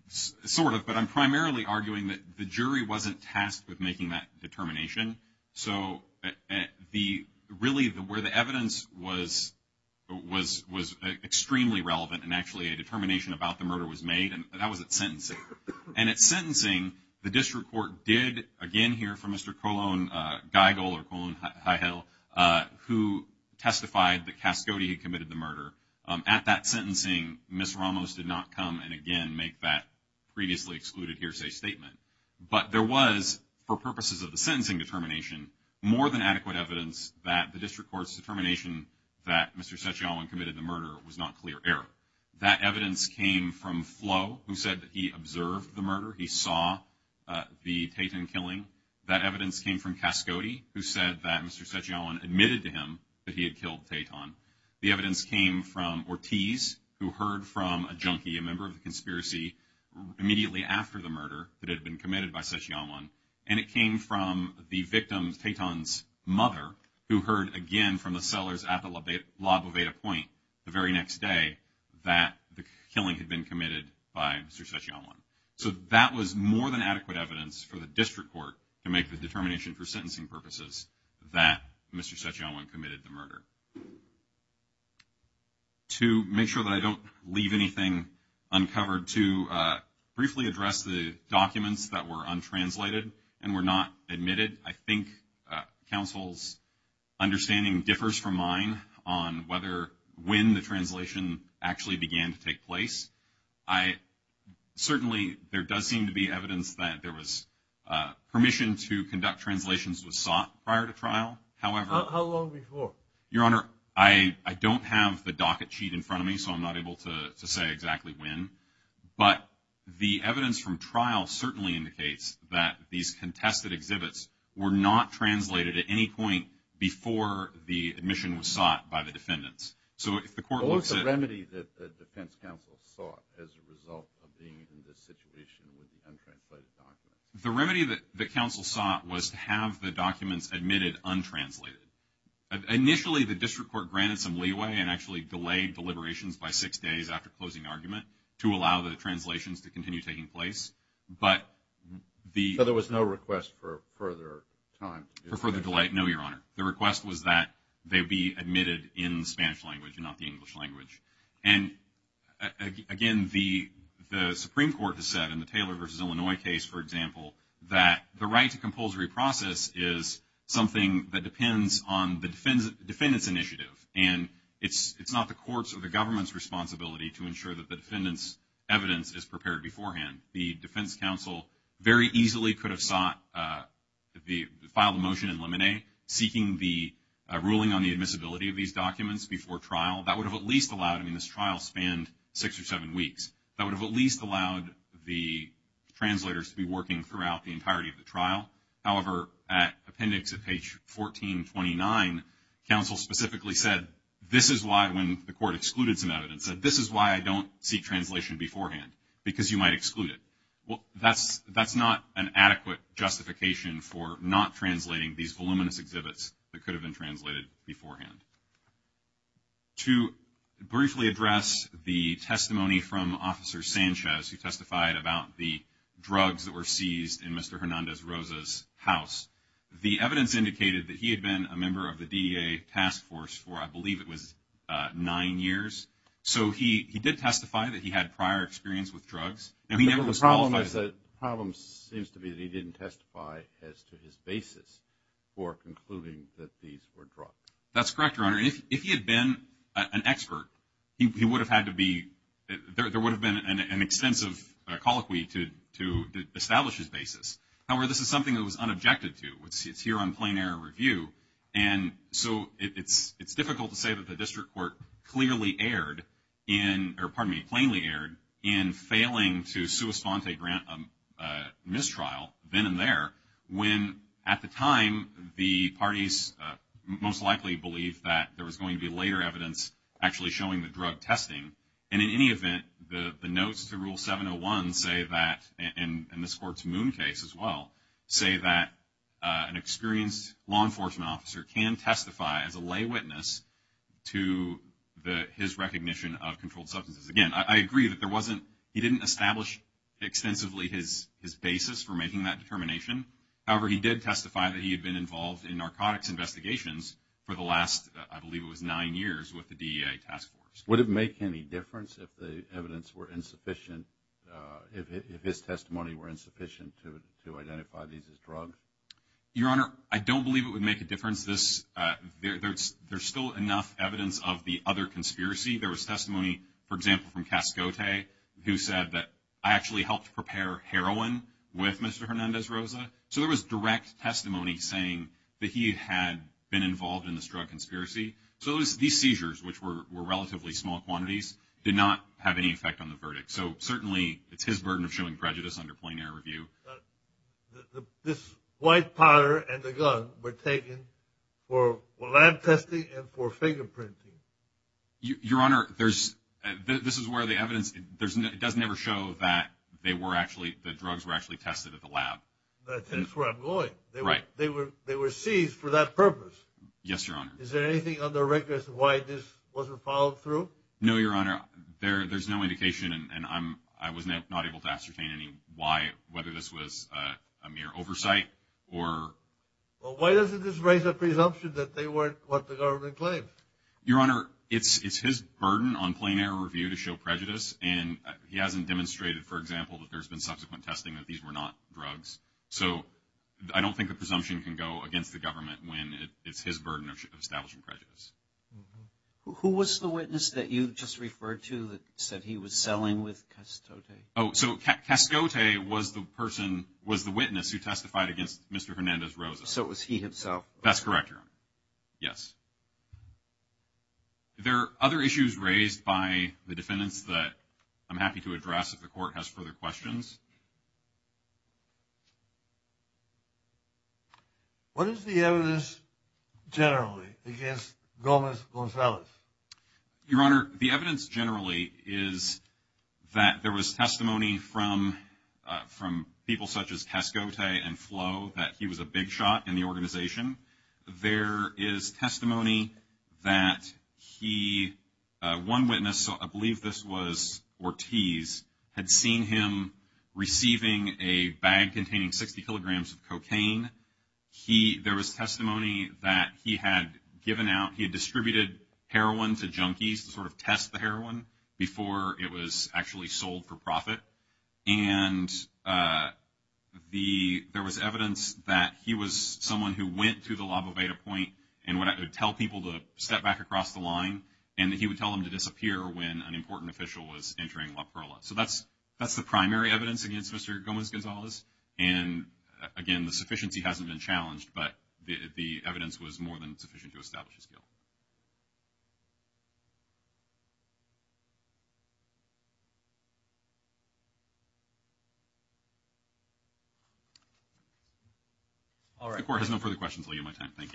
sort of. But I'm primarily arguing that the jury wasn't tasked with making that determination. So, really, where the evidence was extremely relevant and actually a determination about the murder was made, that was at sentencing. And at sentencing, the district court did, again, hear from Mr. Colon Geigel, or Colon Geigel, who testified that Cascode had committed the murder. At that sentencing, Ms. Ramos did not come and, again, make that previously excluded hearsay statement. But there was, for purposes of the sentencing determination, more than adequate evidence that the district court's determination that Mr. Cechiolan committed the murder was not clear error. That evidence came from Flo, who said that he observed the murder. He saw the Taton killing. That evidence came from Cascode, who said that Mr. Cechiolan admitted to him that he had killed Taton. The evidence came from Ortiz, who heard from a junkie, a member of the conspiracy, immediately after the murder that had been committed by Cechiolan. And it came from the victim, Taton's mother, who heard again from the sellers at the La Boveda Point the very next day that the killing had been committed by Mr. Cechiolan. So that was more than adequate evidence for the district court to make the determination for sentencing purposes that Mr. Cechiolan committed the murder. To make sure that I don't leave anything uncovered, to briefly address the documents that were untranslated and were not admitted. I think counsel's understanding differs from mine on whether or when the translation actually began to take place. Certainly there does seem to be evidence that there was permission to conduct translations that was sought prior to trial. How long before? Your Honor, I don't have the docket sheet in front of me, so I'm not able to say exactly when. But the evidence from trial certainly indicates that these contested exhibits were not translated at any point before the admission was sought by the defendants. What was the remedy that the defense counsel sought as a result of being in this situation with the untranslated documents? The remedy that counsel sought was to have the documents admitted untranslated. Initially the district court granted some leeway and actually delayed deliberations by six days after closing argument to allow the translations to continue taking place. So there was no request for further time? No, Your Honor. The request was that they be admitted in the Spanish language, not the English language. And again, the Supreme Court has said in the Taylor v. Illinois case, for example, that the right to compulsory process is something that depends on the defendant's initiative, and it's not the court's or the government's responsibility to ensure that the defendant's evidence is prepared beforehand. The defense counsel very easily could have filed a motion in limine seeking the ruling on the admissibility of these documents before trial. That would have at least allowed, I mean, this trial spanned six or seven weeks. That would have at least allowed the translators to be working throughout the entirety of the trial. However, at appendix at page 1429, counsel specifically said this is why, when the court excluded some evidence, said this is why I don't seek translation beforehand, because you might exclude it. Well, that's not an adequate justification for not translating these voluminous exhibits that could have been translated beforehand. To briefly address the testimony from Officer Sanchez, who testified about the drugs that were seized in Mr. Hernandez-Rosa's house, the evidence indicated that he had been a member of the DEA task force for I believe it was nine years. So he did testify that he had prior experience with drugs. The problem seems to be that he didn't testify as to his basis for concluding that these were drugs. That's correct, Your Honor. If he had been an expert, he would have had to be – there would have been an extensive colloquy to establish his basis. However, this is something that was unobjected to. It's here on plain error review. And so it's difficult to say that the district court clearly erred in – or pardon me, plainly erred in failing to sua sponte grant a mistrial then and there when at the time the parties most likely believed that there was going to be later evidence actually showing the drug testing. And in any event, the notes to Rule 701 say that, and this court's Moon case as well, say that an experienced law enforcement officer can testify as a lay witness to his recognition of controlled substances. Again, I agree that there wasn't – basis for making that determination. However, he did testify that he had been involved in narcotics investigations for the last, I believe it was, nine years with the DEA task force. Would it make any difference if the evidence were insufficient – if his testimony were insufficient to identify these as drugs? Your Honor, I don't believe it would make a difference. There's still enough evidence of the other conspiracy. There was testimony, for example, from Cascote, who said that I actually helped prepare heroin with Mr. Hernandez-Rosa. So there was direct testimony saying that he had been involved in this drug conspiracy. So these seizures, which were relatively small quantities, did not have any effect on the verdict. So certainly it's his burden of showing prejudice under plain air review. This white powder and the gun were taken for lab testing and for fingerprinting. Your Honor, there's – this is where the evidence – it doesn't ever show that they were actually – that drugs were actually tested at the lab. That's where I'm going. Right. They were seized for that purpose. Yes, Your Honor. Is there anything on the record as to why this wasn't followed through? No, Your Honor. There's no indication, and I was not able to ascertain any why, whether this was a mere oversight or – Well, why doesn't this raise a presumption that they weren't what the government claims? Your Honor, it's his burden on plain air review to show prejudice, and he hasn't demonstrated, for example, that there's been subsequent testing that these were not drugs. So I don't think the presumption can go against the government when it's his burden of establishing prejudice. Who was the witness that you just referred to that said he was selling with Cascote? Oh, so Cascote was the person – was the witness who testified against Mr. Hernandez-Rosa. So it was he himself. That's correct, Your Honor. Yes. There are other issues raised by the defendants that I'm happy to address if the court has further questions. What is the evidence generally against Gomez-Gonzalez? Your Honor, the evidence generally is that there was testimony from people such as Cascote and Flo that he was a big shot in the organization. There is testimony that he – one witness, I believe this was Ortiz, had seen him receiving a bag containing 60 kilograms of cocaine. There was testimony that he had given out – he had distributed heroin to junkies to sort of test the heroin before it was actually sold for profit. And there was evidence that he was someone who went to the La Boveda point and would tell people to step back across the line, and that he would tell them to disappear when an important official was entering La Perla. So that's the primary evidence against Mr. Gomez-Gonzalez. And, again, the sufficiency hasn't been challenged, but the evidence was more than sufficient to establish his guilt. The court has no further questions. I'll give you my time. Thank you.